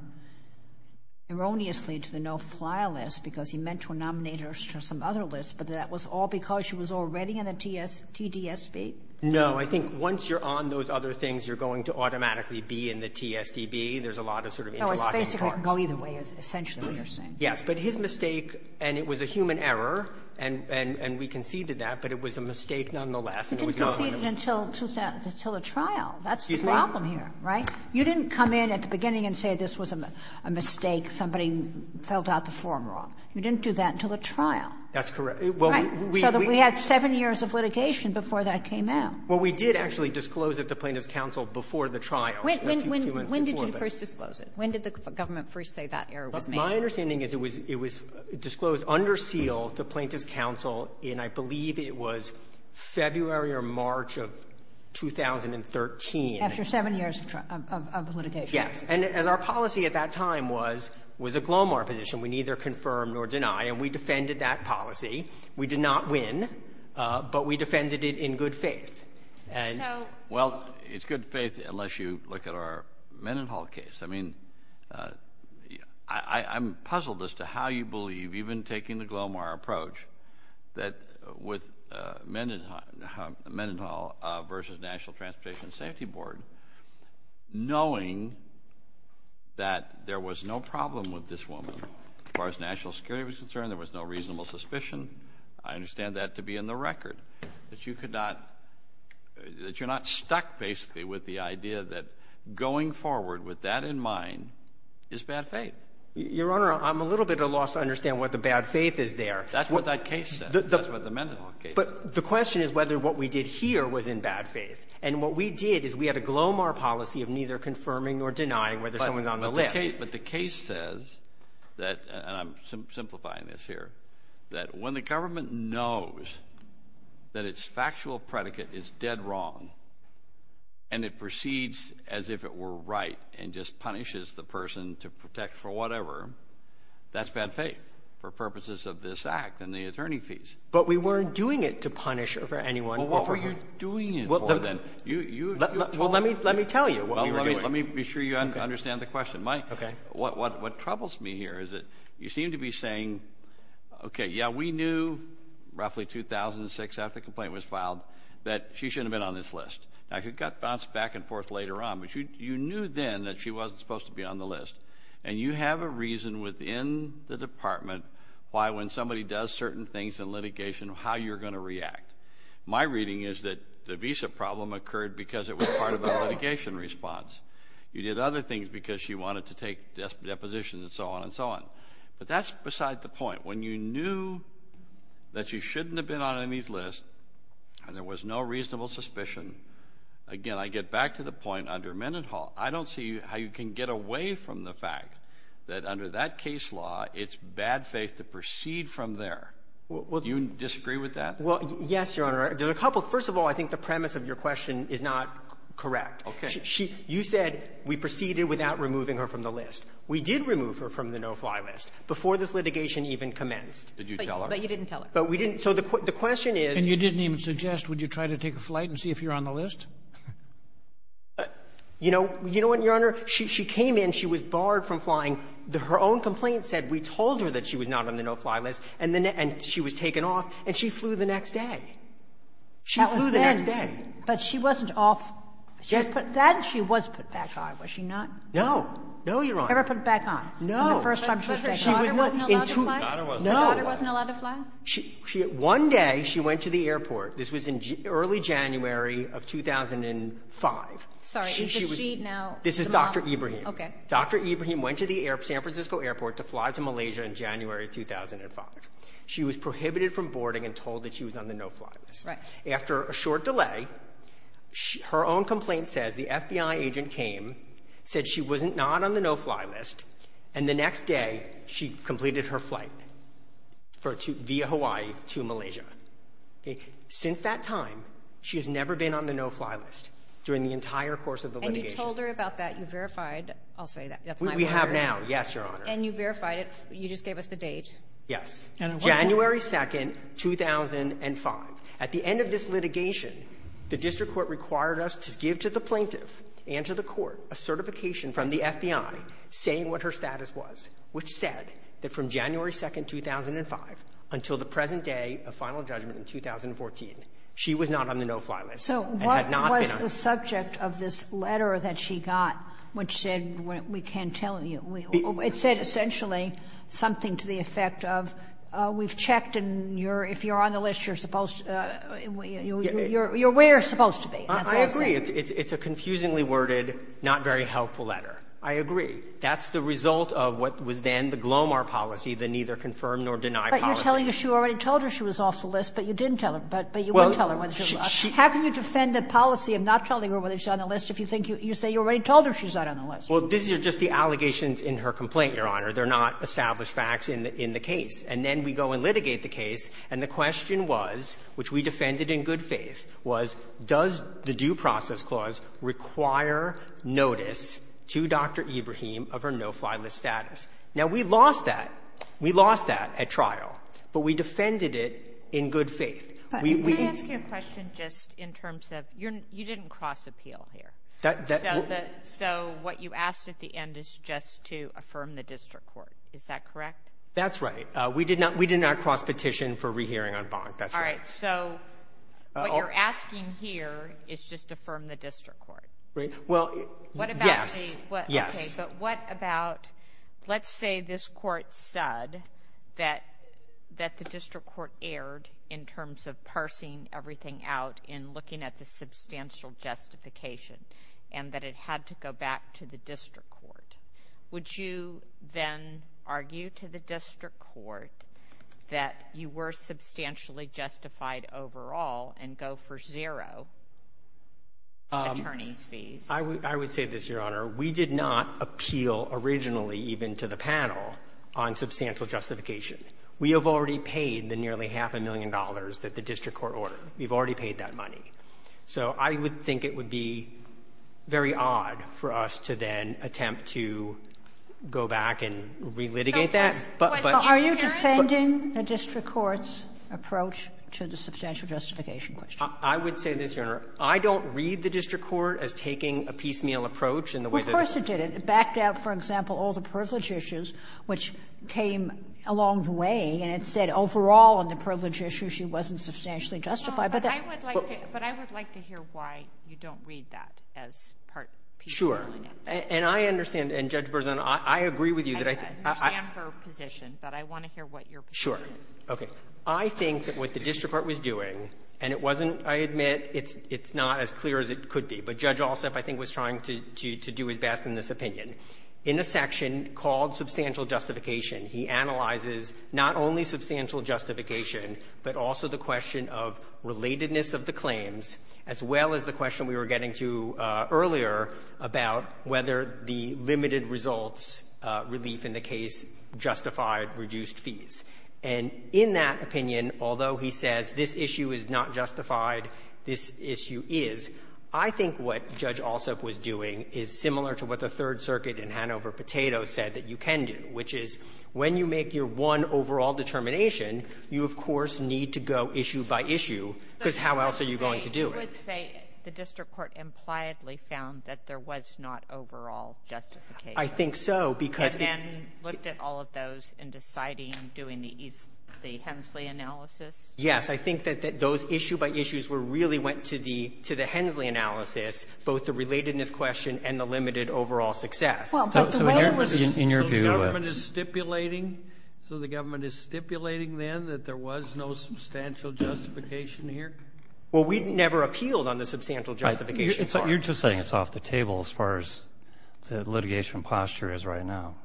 erroneously to the no-fly list because he meant to nominate her to some other list, but that was all because she was already in a TDSB? No, I think once you're on those other things, you're going to automatically be in the TSDB. There's a lot of sort of interlocking. Well, either way is essentially what you're saying. Yes, but his mistake, and it was a human error, and we conceded that, but it was a mistake nonetheless. You didn't concede it until the trial. That's the problem here, right? You didn't come in at the beginning and say this was a mistake, somebody filled out the form wrong. You didn't do that until the trial. That's correct. Right? So we had seven years of litigation before that came out. Well, we did actually disclose it to plaintiff's counsel before the trial. When did you first disclose it? When did the government first say that error was made? My understanding is it was disclosed under seal to plaintiff's counsel in I believe it was February or March of 2013. After seven years of litigation. Yes, and our policy at that time was a Glomar position. We neither confirm nor deny, and we defended that policy. We did not win, but we defended it in good faith. Well, it's good faith unless you look at our Mendenhall case. I mean, I'm puzzled as to how you believe, even taking the Glomar approach, that with Mendenhall versus National Transportation Safety Board, knowing that there was no problem with this woman as far as national security was concerned, there was no reasonable suspicion, I understand that to be in the record, that you're not stuck basically with the idea that going forward with that in mind is bad faith. Your Honor, I'm a little bit at a loss to understand what the bad faith is there. That's what that case says. That's what the Mendenhall case says. But the question is whether what we did here was in bad faith. And what we did is we had a Glomar policy of neither confirming or denying whether someone's on the list. But the case says, and I'm simplifying this here, that when the government knows that its factual predicate is dead wrong and it proceeds as if it were right and just punishes the person to protect for whatever, that's bad faith for purposes of this Act and the attorney fees. But we weren't doing it to punish anyone. Well, what were you doing it for then? Well, let me tell you. Let me be sure you understand the question. Okay. What troubles me here is that you seem to be saying, okay, yeah, we knew roughly 2006 after the complaint was filed that she shouldn't have been on this list. Now, it got bounced back and forth later on, but you knew then that she wasn't supposed to be on the list. And you have a reason within the Department why when somebody does certain things in litigation how you're going to react. My reading is that the visa problem occurred because it was part of a litigation response. You did other things because she wanted to take depositions and so on and so on. But that's beside the point. When you knew that she shouldn't have been on any list and there was no reasonable suspicion, again, I get back to the point under Mendenhall. I don't see how you can get away from the fact that under that case law it's bad faith to proceed from there. Do you disagree with that? Well, yes, Your Honor. There are a couple. First of all, I think the premise of your question is not correct. Okay. You said we proceeded without removing her from the list. We did remove her from the no-fly list before this litigation even commenced. Did you tell her? But you didn't tell us. But we didn't. So the question is — And you didn't even suggest would you try to take a flight and see if you're on the list? You know what, Your Honor? She came in. She was barred from flying. Her own complaint said we told her that she was not on the no-fly list, and she was taken off, and she flew the next day. She flew the next day. But she wasn't off. Then she was put back on. Was she not? No. No, Your Honor. Never put back on? The first time she was taken off? No. There wasn't a lot of flight? No. There wasn't a lot of flight? One day she went to the airport. This was in early January of 2005. Sorry. Is she now — This is Dr. Ibrahim. Okay. Dr. Ibrahim went to the San Francisco airport to fly to Malaysia in January 2005. She was prohibited from boarding and told that she was on the no-fly list. Right. After a short delay, her own complaint says the FBI agent came, said she was not on the no-fly list, and the next day she completed her flight via Hawaii to Malaysia. Since that time, she has never been on the no-fly list during the entire course of the litigation. You told her about that. You verified. I'll say that. We have now. Yes, Your Honor. And you verified it. You just gave us the date. Yes. January 2, 2005. At the end of this litigation, the district court required us to give to the plaintiff and to the court a certification from the FBI saying what her status was, which said that from January 2, 2005 until the present day of final judgment in 2014, she was not on the no-fly list. So what was the subject of this letter that she got, which said we can't tell you? It said essentially something to the effect of we've checked, and if you're on the list, you're where you're supposed to be. I agree. It's a confusingly worded, not very helpful letter. I agree. That's the result of what was then the Glomar policy, the neither confirm nor deny policy. But you're telling us you already told her she was off the list, but you didn't tell her. How can you defend a policy of not telling her whether she's on the list if you think you say you already told her she's not on the list? Well, this is just the allegations in her complaint, Your Honor. They're not established facts in the case. And then we go and litigate the case, and the question was, which we defended in good faith, was does the due process clause require notice to Dr. Ibrahim of her no-fly list status? Now, we lost that. We lost that at trial. But we defended it in good faith. Let me ask you a question just in terms of you didn't cross appeal here. So what you asked at the end is just to affirm the district court. Is that correct? That's right. We did not cross petition for rehearing on bond. That's right. All right. So what you're asking here is just affirm the district court. Right. Well, yes. But what about let's say this court said that the district court erred in terms of parsing everything out and looking at the substantial justification and that it had to go back to the district court. Would you then argue to the district court that you were substantially justified overall and go for zero attorney fees? I would say this, Your Honor. We did not appeal originally even to the panel on substantial justification. We have already paid the nearly half a million dollars that the district court ordered. We've already paid that money. So I would think it would be very odd for us to then attempt to go back and relitigate that. Are you defending the district court's approach to the substantial justification question? I would say this, Your Honor. I don't read the district court as taking a piecemeal approach in the way that it was. Well, of course it didn't. It backed out, for example, all the privilege issues, which came along the way. And it said overall in the privilege issue she wasn't substantially justified. But I would like to hear why you don't read that as part piecemeal. Sure. And I understand. And Judge Berzin, I agree with you that I think. I understand her position, but I want to hear what your position is. Sure. Okay. So I think that what the district court was doing, and it wasn't, I admit, it's not as clear as it could be, but Judge Alsop, I think, was trying to do his best in this opinion. In a section called substantial justification, he analyzes not only substantial justification, but also the question of relatedness of the claims, as well as the question we were getting to earlier about whether the limited results relief in the case justified reduced fees. And in that opinion, although he says this issue is not justified, this issue is, I think what Judge Alsop was doing is similar to what the Third Circuit in Hanover-Potato said that you can do, which is when you make your one overall determination, you, of course, need to go issue by issue, because how else are you going to do it? You would say the district court impliedly found that there was not overall justification. I think so. And then looked at all of those in deciding doing the Hensley analysis? Yes. I think that those issue by issues really went to the Hensley analysis, both the relatedness question and the limited overall success. So the government is stipulating then that there was no substantial justification here? Well, we never appealed on the substantial justification. You're just saying it's off the table as far as the litigation posture is right now.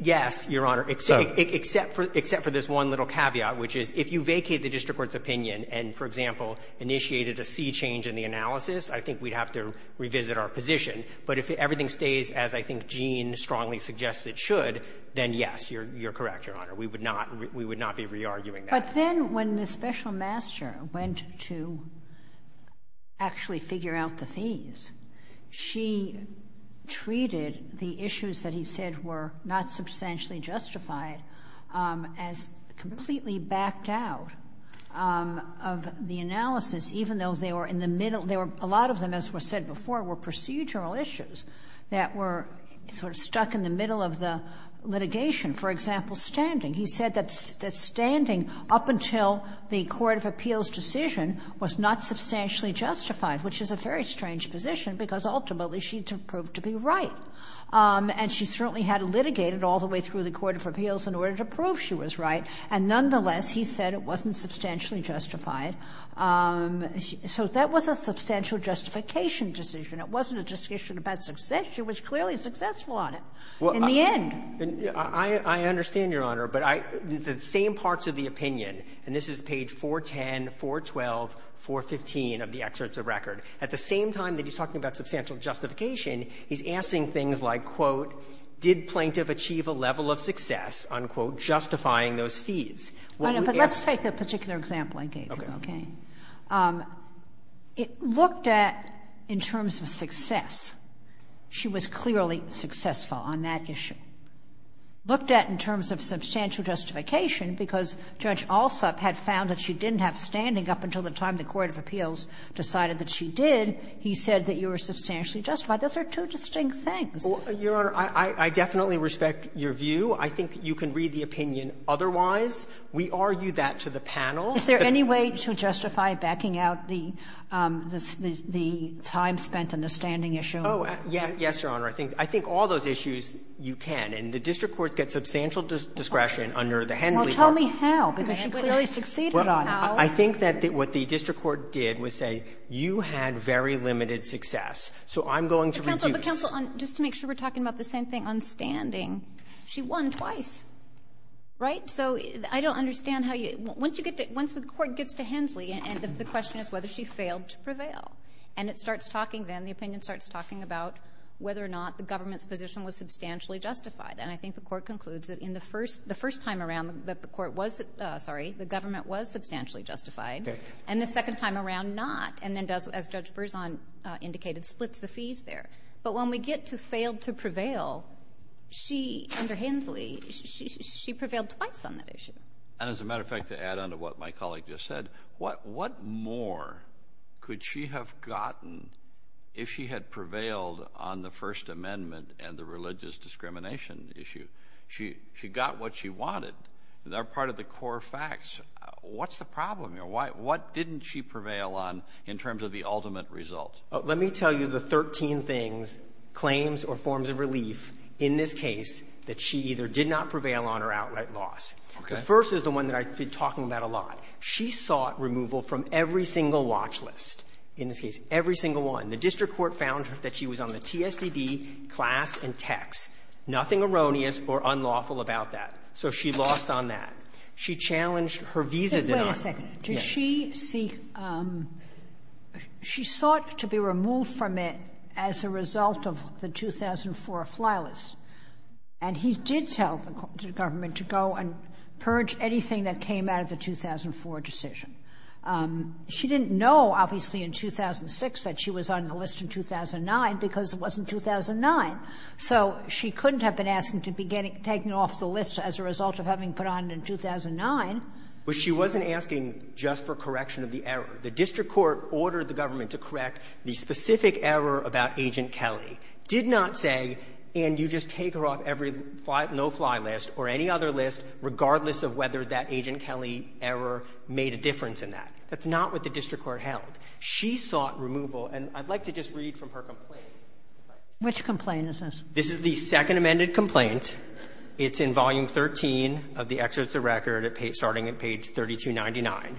Yes, Your Honor, except for this one little caveat, which is if you vacate the district court's opinion and, for example, initiated a fee change in the analysis, I think we'd have to revisit our position. But if everything stays as I think Gene strongly suggests it should, then yes, you're correct, Your Honor. We would not be re-arguing that. But then when the special master went to actually figure out the fees, she treated the issues that he said were not substantially justified as completely backed out of the analysis, even though a lot of them, as was said before, were procedural issues that were sort of stuck in the middle of the litigation. For example, standing. He said that standing up until the court of appeals decision was not substantially justified, which is a very strange position because ultimately she didn't prove to be right. And she certainly had to litigate it all the way through the court of appeals in order to prove she was right. And nonetheless, he said it wasn't substantially justified. So that was a substantial justification decision. It wasn't a decision about success. She was clearly successful on it in the end. I understand, Your Honor, but the same parts of the opinion, and this is page 410, 412, 415 of the excerpts of record. At the same time that he's talking about substantial justification, he's asking things like, quote, did plaintiff achieve a level of success on, quote, justifying those fees? Let's take the particular example I gave you, okay? Okay. It looked at in terms of success. She was clearly successful on that issue. Looked at in terms of substantial justification because Judge Alsop had found that she didn't have standing up until the time the court of appeals decided that she did. He said that you were substantially justified. Those are two distinct things. Your Honor, I definitely respect your view. I think you can read the opinion otherwise. We argue that to the panel. Is there any way to justify backing out the time spent on the standing issue? Oh, yes, Your Honor. I think all those issues you can. And the district court gets substantial discretion under the Henley problem. Well, tell me how because she clearly succeeded on it. I think that what the district court did was say, you had very limited success, so I'm going to reduce. But, counsel, just to make sure we're talking about the same thing on standing, she won twice, right? So I don't understand how you – once you get to – once the court gets to Henley and the question is whether she failed to prevail, and it starts talking then, the opinion starts talking about whether or not the government's position was substantially justified. And I think the court concludes that in the first – the first time around that the court was – sorry, the government was substantially justified, and the second time around not, and then does, as Judge Berzon indicated, splits the fees there. But when we get to failed to prevail, she, under Henley, she prevailed twice on that issue. And as a matter of fact, to add on to what my colleague just said, what more could she have gotten if she had prevailed on the First Amendment and the religious discrimination issue? She got what she wanted. They're part of the core facts. What's the problem here? What didn't she prevail on in terms of the ultimate result? Let me tell you the 13 things, claims or forms of relief in this case that she either did not prevail on or outright lost. Okay. The first is the one that I see talking about a lot. She sought removal from every single watch list in this case, every single one. The district court found that she was on the TSDB class and text. Nothing erroneous or unlawful about that. So she lost on that. She challenged her visa – Wait a second. Yes. She sought to be removed from it as a result of the 2004 fly list. And he did tell the government to go and purge anything that came out of the 2004 decision. She didn't know, obviously, in 2006 that she was on the list in 2009 because it wasn't 2009. So she couldn't have been asking to be taken off the list as a result of having put on in 2009. But she wasn't asking just for correction of the error. The district court ordered the government to correct the specific error about Agent Kelly. Did not say, and you just take her off every no-fly list or any other list regardless of whether that Agent Kelly error made a difference in that. That's not what the district court held. She sought removal, and I'd like to just read from her complaint. Which complaint is this? This is the second amended complaint. It's in volume 13 of the excerpt of the record starting at page 3299.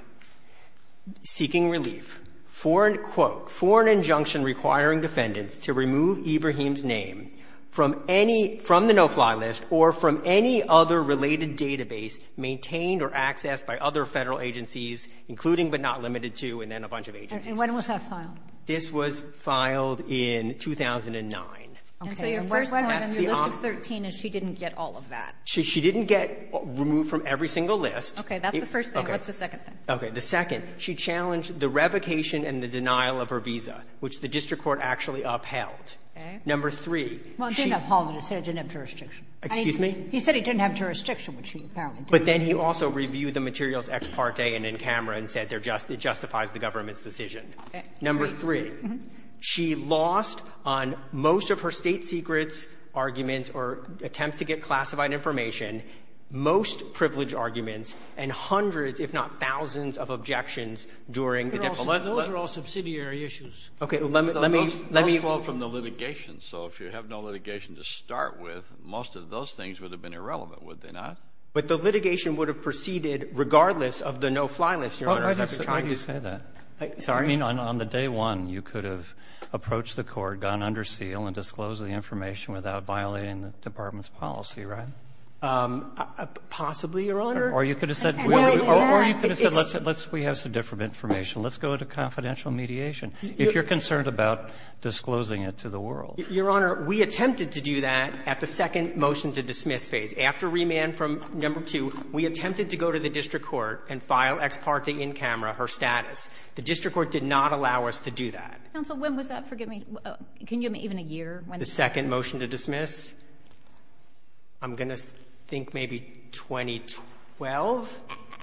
Seeking relief for an injunction requiring defendants to remove Ibrahim's name from the no-fly list or from any other related database maintained or accessed by other federal agencies, including but not limited to, and then a bunch of agencies. And when was that filed? This was filed in 2009. So your first one on your list of 13 is she didn't get all of that. She didn't get removed from every single list. Okay, that's the first thing. What's the second thing? Okay, the second. She challenged the revocation and the denial of her visa, which the district court actually upheld. Okay. Number three. Well, it didn't uphold it. It said it didn't have jurisdiction. Excuse me? He said it didn't have jurisdiction, which she apparently did. But then he also reviewed the materials ex parte and in camera and said it justifies the government's decision. Okay. Number three. She lost on most of her state secrets, arguments, or attempts to get classified information, most privileged arguments, and hundreds, if not thousands, of objections during the election. Those are all subsidiary issues. Okay, let me evolve from the litigation. So if you have no litigation to start with, most of those things would have been irrelevant, would they not? But the litigation would have proceeded regardless of the no-fly list. I mean, on the day one, you could have approached the court, gone under seal, and disclosed the information without violating the department's policy, right? Possibly, Your Honor. Or you could have said, we have some different information. Let's go to confidential mediation. If you're concerned about disclosing it to the world. Your Honor, we attempted to do that at the second motion to dismiss phase. After remand from number two, we attempted to go to the district court and file ex parte in camera her status. The district court did not allow us to do that. Counsel, when was that? Forgive me. Can you give me even a year? The second motion to dismiss? I'm going to think maybe 2012?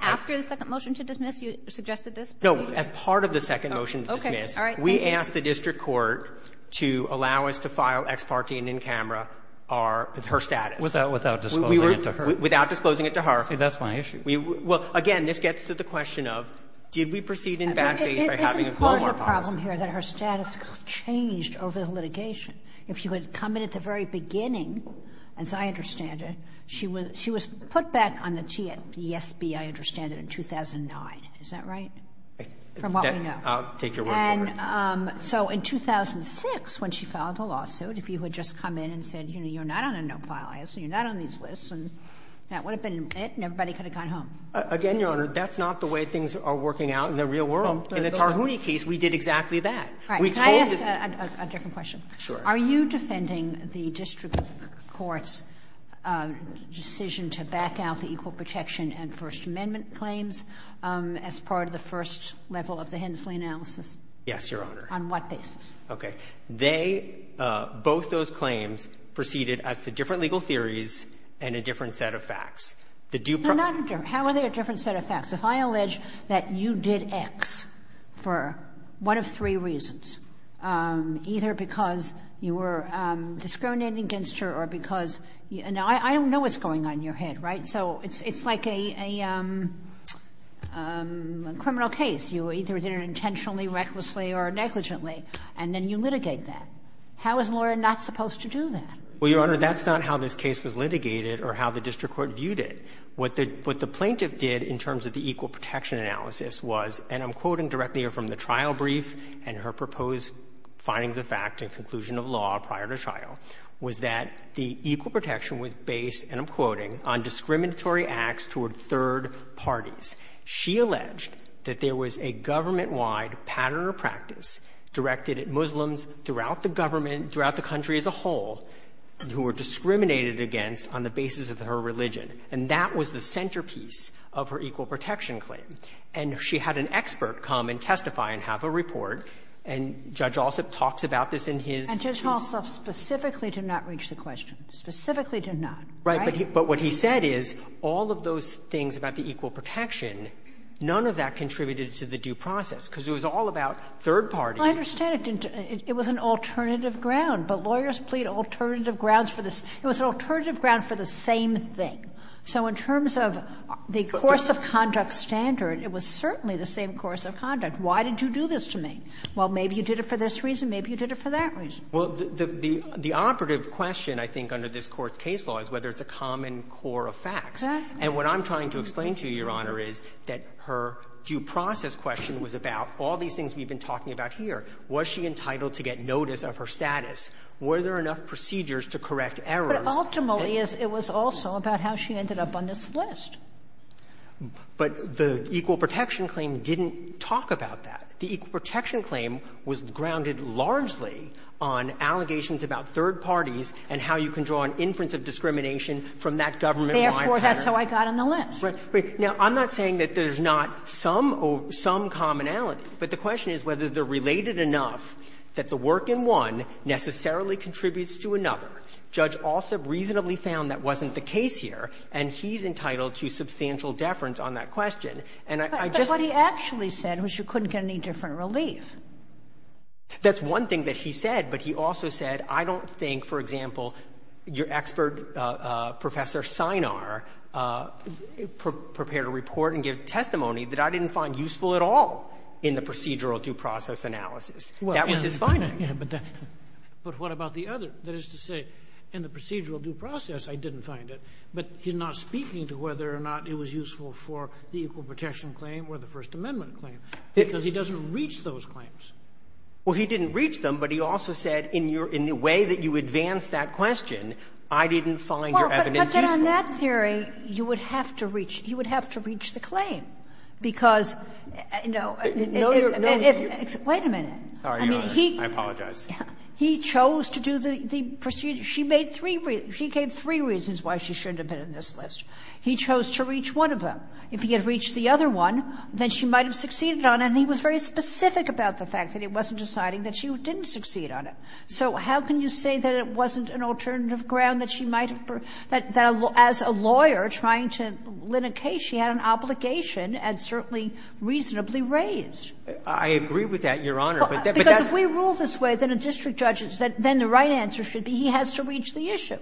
After the second motion to dismiss, you suggested this? No, as part of the second motion to dismiss. Okay, all right. We asked the district court to allow us to file ex parte in camera her status. Without disclosing it to her? Without disclosing it to her. See, that's my issue. Well, again, this gets to the question of, did we proceed in that way by having one more file? It's part of the problem here that her status changed over the litigation. If she would have come in at the very beginning, as I understand it, she was put back on the TSB, I understand it, in 2009. Is that right? From what we know. I'll take your word for it. So in 2006, when she filed the lawsuit, if you had just come in and said, you know, you're not on a no-file list, you're not on these lists, and that would have been it and everybody could have gone home. Again, Your Honor, that's not the way things are working out in the real world. In the Tarhouni case, we did exactly that. Can I ask a second question? Sure. Are you defending the district court's decision to back out the equal protection and First Amendment claims as part of the first level of the Hensley analysis? Yes, Your Honor. On what basis? Okay. They, both those claims, proceeded as to different legal theories and a different set of facts. How are they a different set of facts? If I allege that you did X for one of three reasons, either because you were discriminating against her or because, and I don't know what's going on in your head, right? So it's like a criminal case. You either did it intentionally, recklessly, or negligently, and then you litigate that. How is Laura not supposed to do that? Well, Your Honor, that's not how this case was litigated or how the district court viewed it. What the plaintiff did in terms of the equal protection analysis was, and I'm quoting directly from the trial brief and her proposed findings of fact and conclusion of law prior to trial, was that the equal protection was based, and I'm quoting, on discriminatory acts toward third parties. She alleged that there was a government-wide pattern or practice directed at Muslims throughout the government, throughout the country as a whole, who were discriminated against on the basis of her religion, and that was the centerpiece of her equal protection claim. And she had an expert come and testify and have a report, and Judge Alsop talked about this in his... And Judge Alsop specifically did not reach the question, specifically did not. Right, but what he said is all of those things about the equal protection, none of that contributed to the due process because it was all about third parties. I understand it was an alternative ground, but lawyers plead alternative grounds for this. It was an alternative ground for the same thing. So in terms of the course of conduct standard, it was certainly the same course of conduct. Why did you do this to me? Well, maybe you did it for this reason, maybe you did it for that reason. Well, the operative question, I think, under this Court's case law is whether it's a common core of facts. Exactly. And what I'm trying to explain to you, Your Honor, is that her due process question was about all these things we've been talking about here. Was she entitled to get notice of her status? Were there enough procedures to correct errors? But ultimately, it was also about how she ended up on this list. But the equal protection claim didn't talk about that. The equal protection claim was grounded largely on allegations about third parties and how you can draw an inference of discrimination from that government-wide pattern. Therefore, that's how I got on the list. Now, I'm not saying that there's not some commonality, but the question is whether they're related enough that the work in one necessarily contributes to another. The judge also reasonably found that wasn't the case here, and she's entitled to substantial deference on that question. But what he actually said was she couldn't get any different relief. That's one thing that she said, but he also said, I don't think, for example, your expert, Professor Synar, prepared a report and gave testimony that I didn't find useful at all in the procedural due process analysis. But what about the other? That is to say, in the procedural due process, I didn't find it, but you're not speaking to whether or not it was useful for the equal protection claim or the First Amendment claim, because he doesn't reach those claims. Well, he didn't reach them, but he also said, in the way that you advanced that question, I didn't find your evidence useful. Well, but then on that theory, you would have to reach the claim. Wait a minute. Sorry, I apologize. He chose to do the procedure. She gave three reasons why she shouldn't have been on this list. He chose to reach one of them. If he had reached the other one, then she might have succeeded on it, and he was very specific about the fact that it wasn't deciding that she didn't succeed on it. So how can you say that it wasn't an alternative ground, that as a lawyer trying to litigate, she had an obligation and certainly reasonably raised? I agree with that, Your Honor. Because if we rule this way, then a district judge, then the right answer should be he has to reach the issue,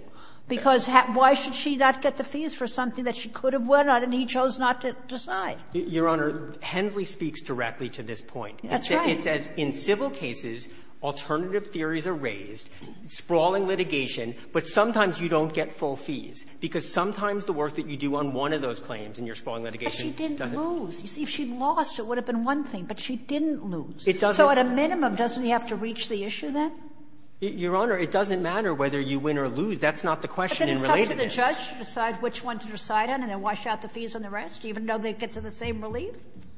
because why should she not get the fees for something that she could have won on, and he chose not to decide? Your Honor, Henry speaks directly to this point. That's right. He says in civil cases, alternative theories are raised, sprawling litigation, but sometimes you don't get full fees, because sometimes the work that you do on one of those claims in your sprawling litigation doesn't work. But she didn't lose. If she'd lost, it would have been one thing, but she didn't lose. So at a minimum, doesn't he have to reach the issue then? Your Honor, it doesn't matter whether you win or lose. That's not the question in relation to it. But can he come to the judge, decide which one to decide on, and then wash out the fees on the rest, even though they get to the same relief?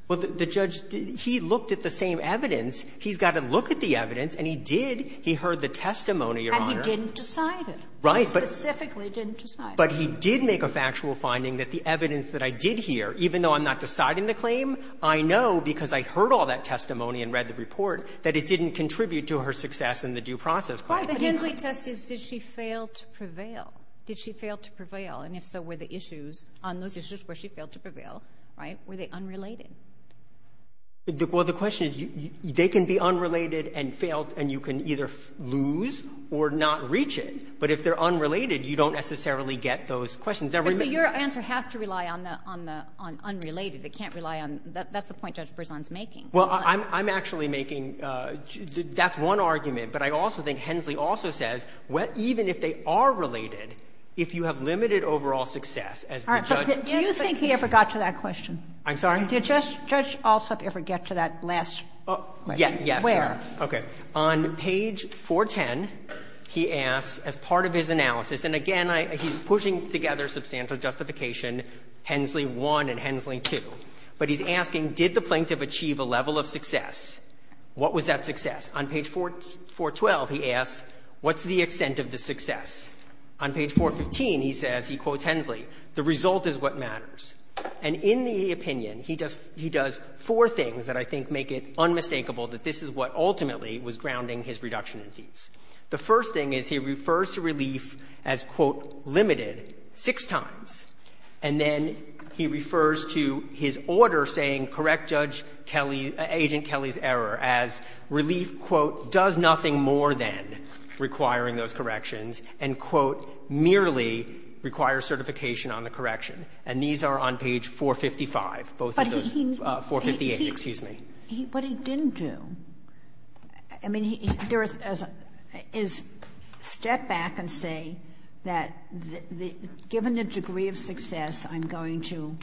Well, the judge, he looked at the same evidence. He's got to look at the evidence, and he did. He heard the testimony, Your Honor. But he didn't decide it. Right. Specifically didn't decide it. But he did make a factual finding that the evidence that I did hear, even though I'm not deciding the claim, I know because I heard all that testimony and read the report, that it didn't contribute to her success in the due process. Right. The Hensley test is, did she fail to prevail? Did she fail to prevail? And if so, were the issues on those issues where she failed to prevail, right, were they unrelated? Well, the question is, they can be unrelated and failed, and you can either lose or not reach it. But if they're unrelated, you don't necessarily get those questions. But your answer has to rely on unrelated. It can't rely on – that's the point Judge Berzon's making. Well, I'm actually making – that's one argument. But I also think Hensley also says, even if they are related, if you have limited overall success as the judge – Do you think he ever got to that question? I'm sorry? Did Judge Alsop ever get to that last question? Yes, yes. Where? Okay. On page 410, he asks, as part of his analysis – and again, he's pushing together substantial justification, Hensley 1 and Hensley 2. But he's asking, did the plaintiff achieve a level of success? What was that success? On page 412, he asks, what's the extent of the success? On page 415, he says, he quotes Hensley, the result is what matters. And in the opinion, he does four things that I think make it unmistakable that this is what ultimately was grounding his reduction in fees. The first thing is he refers to relief as, quote, limited six times. And then he refers to his order saying correct Judge Kelly – Agent Kelly's error as relief, quote, does nothing more than requiring those corrections and, quote, merely requires certification on the correction. And these are on page 455, both of those – 458, excuse me. But he didn't do – I mean, there is – is step back and say that given the degree of success, I'm going to,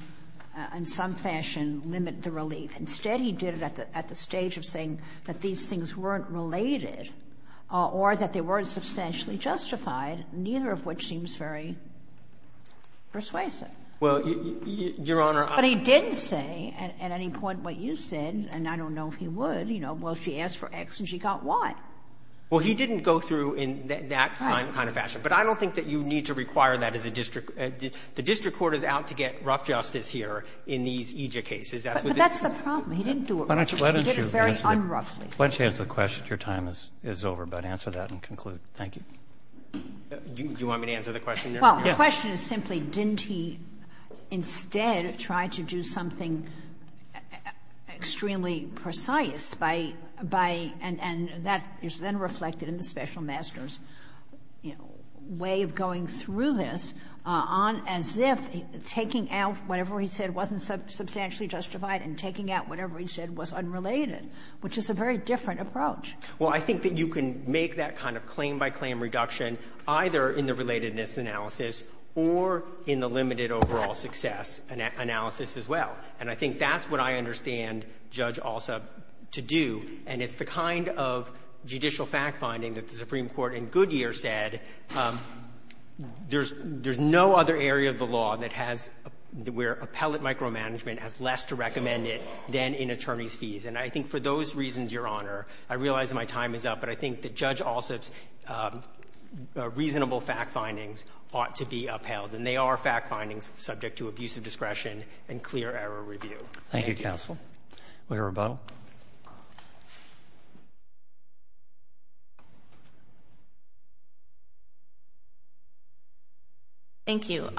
in some fashion, limit the relief. Instead, he did it at the stage of saying that these things weren't related or that they weren't substantially justified, neither of which seems very persuasive. Well, Your Honor – But he didn't say at any point what you said, and I don't know if he would, you know, well, she asked for X and she got Y. Well, he didn't go through in that kind of fashion. But I don't think that you need to require that as a district – the district court is out to get rough justice here in these EJ cases. But that's the problem. He didn't do it right. He did it very un-roughly. Let's answer the question. Your time is over, but answer that and conclude. Thank you. Do you want me to answer the question now? Well, the question is simply didn't he instead try to do something extremely precise by – and that is then reflected in the special master's way of going through this as if taking out whatever he said wasn't substantially justified and taking out whatever he said was unrelated, which is a very different approach. Well, I think that you can make that kind of claim-by-claim reduction either in the relatedness analysis or in the limited overall success analysis as well. And I think that's what I understand Judge Alsop to do. And it's the kind of judicial fact-finding that the Supreme Court in Goodyear said there's no other area of the law that has – than in attorney's fees. And I think for those reasons, Your Honor, I realize my time is up, but I think that Judge Alsop's reasonable fact-findings ought to be upheld. And they are fact-findings subject to abusive discretion and clear error review. Thank you, counsel. We have a rebuttal. Thank you.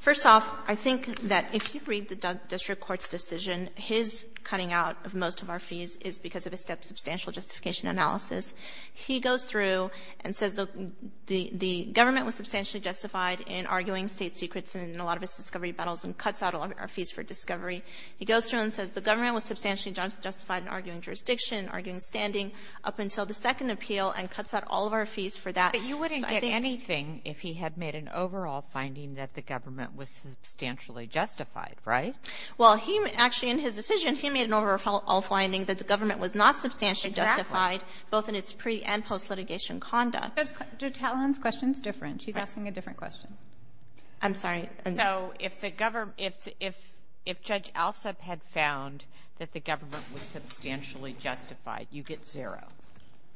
First off, I think that if you read the district court's decision, his cutting out of most of our fees is because of a substantial justification analysis. He goes through and says the government was substantially justified in arguing state secrets in a lot of its discovery battles and cuts out a lot of our fees for discovery. He goes through and says the government was substantially justified in arguing jurisdiction, arguing standing up until the second appeal and cuts out all of our fees for that. But you wouldn't get anything if he had made an overall finding that the government was substantially justified, right? Well, actually, in his decision, he made an overall finding that the government was not substantially justified both in its pre- and post-litigation conduct. Judge Howland's question is different. She's asking a different question. I'm sorry. So if Judge Alsop had found that the government was substantially justified, you get zero.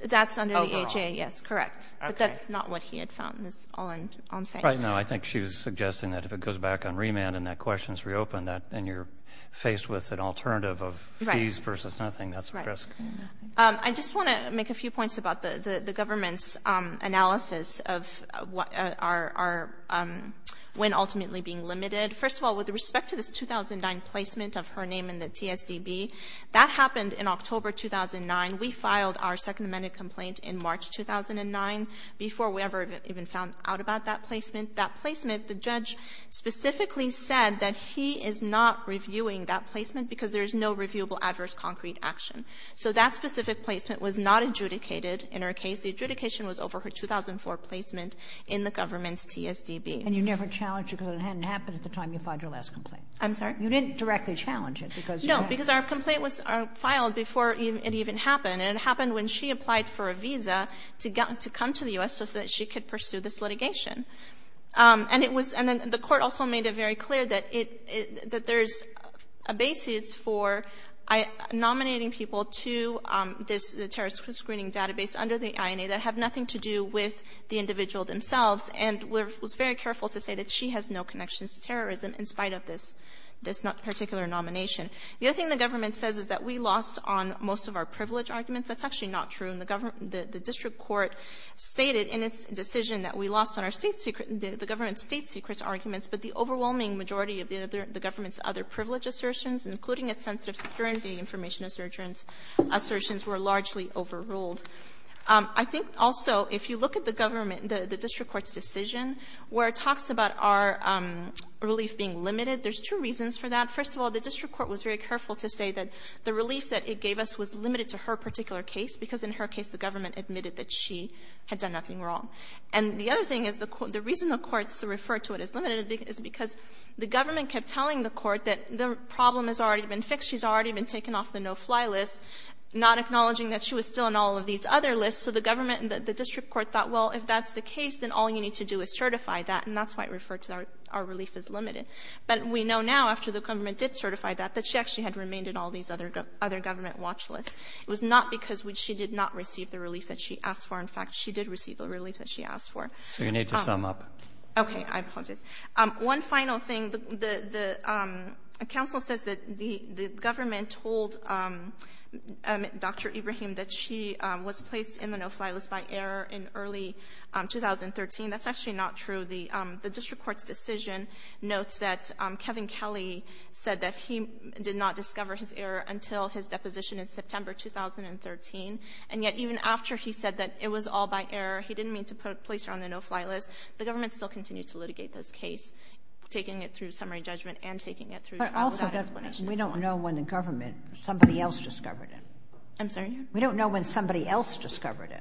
That's under the HAA, yes, correct. But that's not what he had found is all I'm saying. No, I think she was suggesting that if it goes back on remand and that question is reopened, then you're faced with an alternative of fees versus nothing. That's a risk. I just want to make a few points about the government's analysis of when ultimately being limited. First of all, with respect to the 2009 placement of her name in the TSDB, that happened in October 2009. We filed our second amended complaint in March 2009 before we ever even found out about that placement. That placement, the judge specifically said that he is not reviewing that placement because there's no reviewable adverse concrete action. So that specific placement was not adjudicated in her case. The adjudication was over her 2004 placement in the government's TSDB. And you never challenged it because it hadn't happened at the time you filed your last complaint? I'm sorry? You didn't directly challenge it because you had it? Because our complaint was filed before it even happened, and it happened when she applied for a visa to come to the U.S. so that she could pursue this litigation. And the court also made it very clear that there's a basis for nominating people to the terrorist screening database under the INA that have nothing to do with the individual themselves, and was very careful to say that she has no connections to terrorism in spite of this particular nomination. The other thing the government says is that we lost on most of our privilege arguments. That's actually not true. The district court stated in its decision that we lost on the government's state secrets arguments that the overwhelming majority of the government's other privilege assertions, including its sense of security information assertions, were largely overruled. I think also if you look at the district court's decision where it talks about our relief being limited, there's two reasons for that. First of all, the district court was very careful to say that the relief that it gave us was limited to her particular case because in her case the government admitted that she had done nothing wrong. And the other thing is the reason the courts refer to it as limited is because the government kept telling the court that the problem has already been fixed, she's already been taken off the no-fly list, not acknowledging that she was still on all of these other lists, so the government and the district court thought, well, if that's the case, then all you need to do is certify that, and that's why it referred to our relief as limited. But we know now, after the government did certify that, that she actually had remained in all these other government watch lists. It was not because she did not receive the relief that she asked for. In fact, she did receive the relief that she asked for. So you need to sum up. Okay, I've summed it. One final thing, the council says that the government told Dr. Ibrahim that she was placed in the no-fly list by error in early 2013. That's actually not true. The district court's decision notes that Kevin Kelly said that he did not discover his error until his deposition in September 2013, and yet even after he said that it was all by error, he didn't mean to place her on the no-fly list. The government still continues to litigate this case, taking it through summary judgment and taking it through trial. But also, we don't know when the government, somebody else discovered it. I'm sorry? We don't know when somebody else discovered it.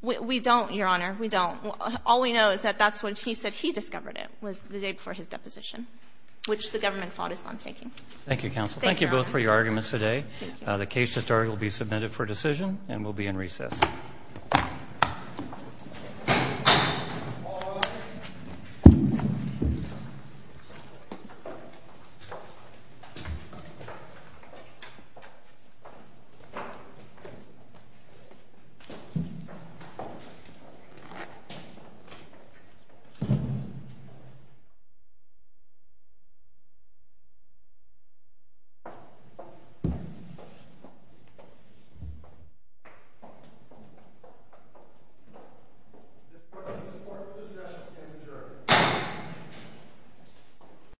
We don't, Your Honor, we don't. All we know is that that's when he said he discovered it, was the day before his deposition, which the government fought us on taking. Thank you, counsel. Thank you both for your arguments today. The case history will be submitted for decision and will be in recess.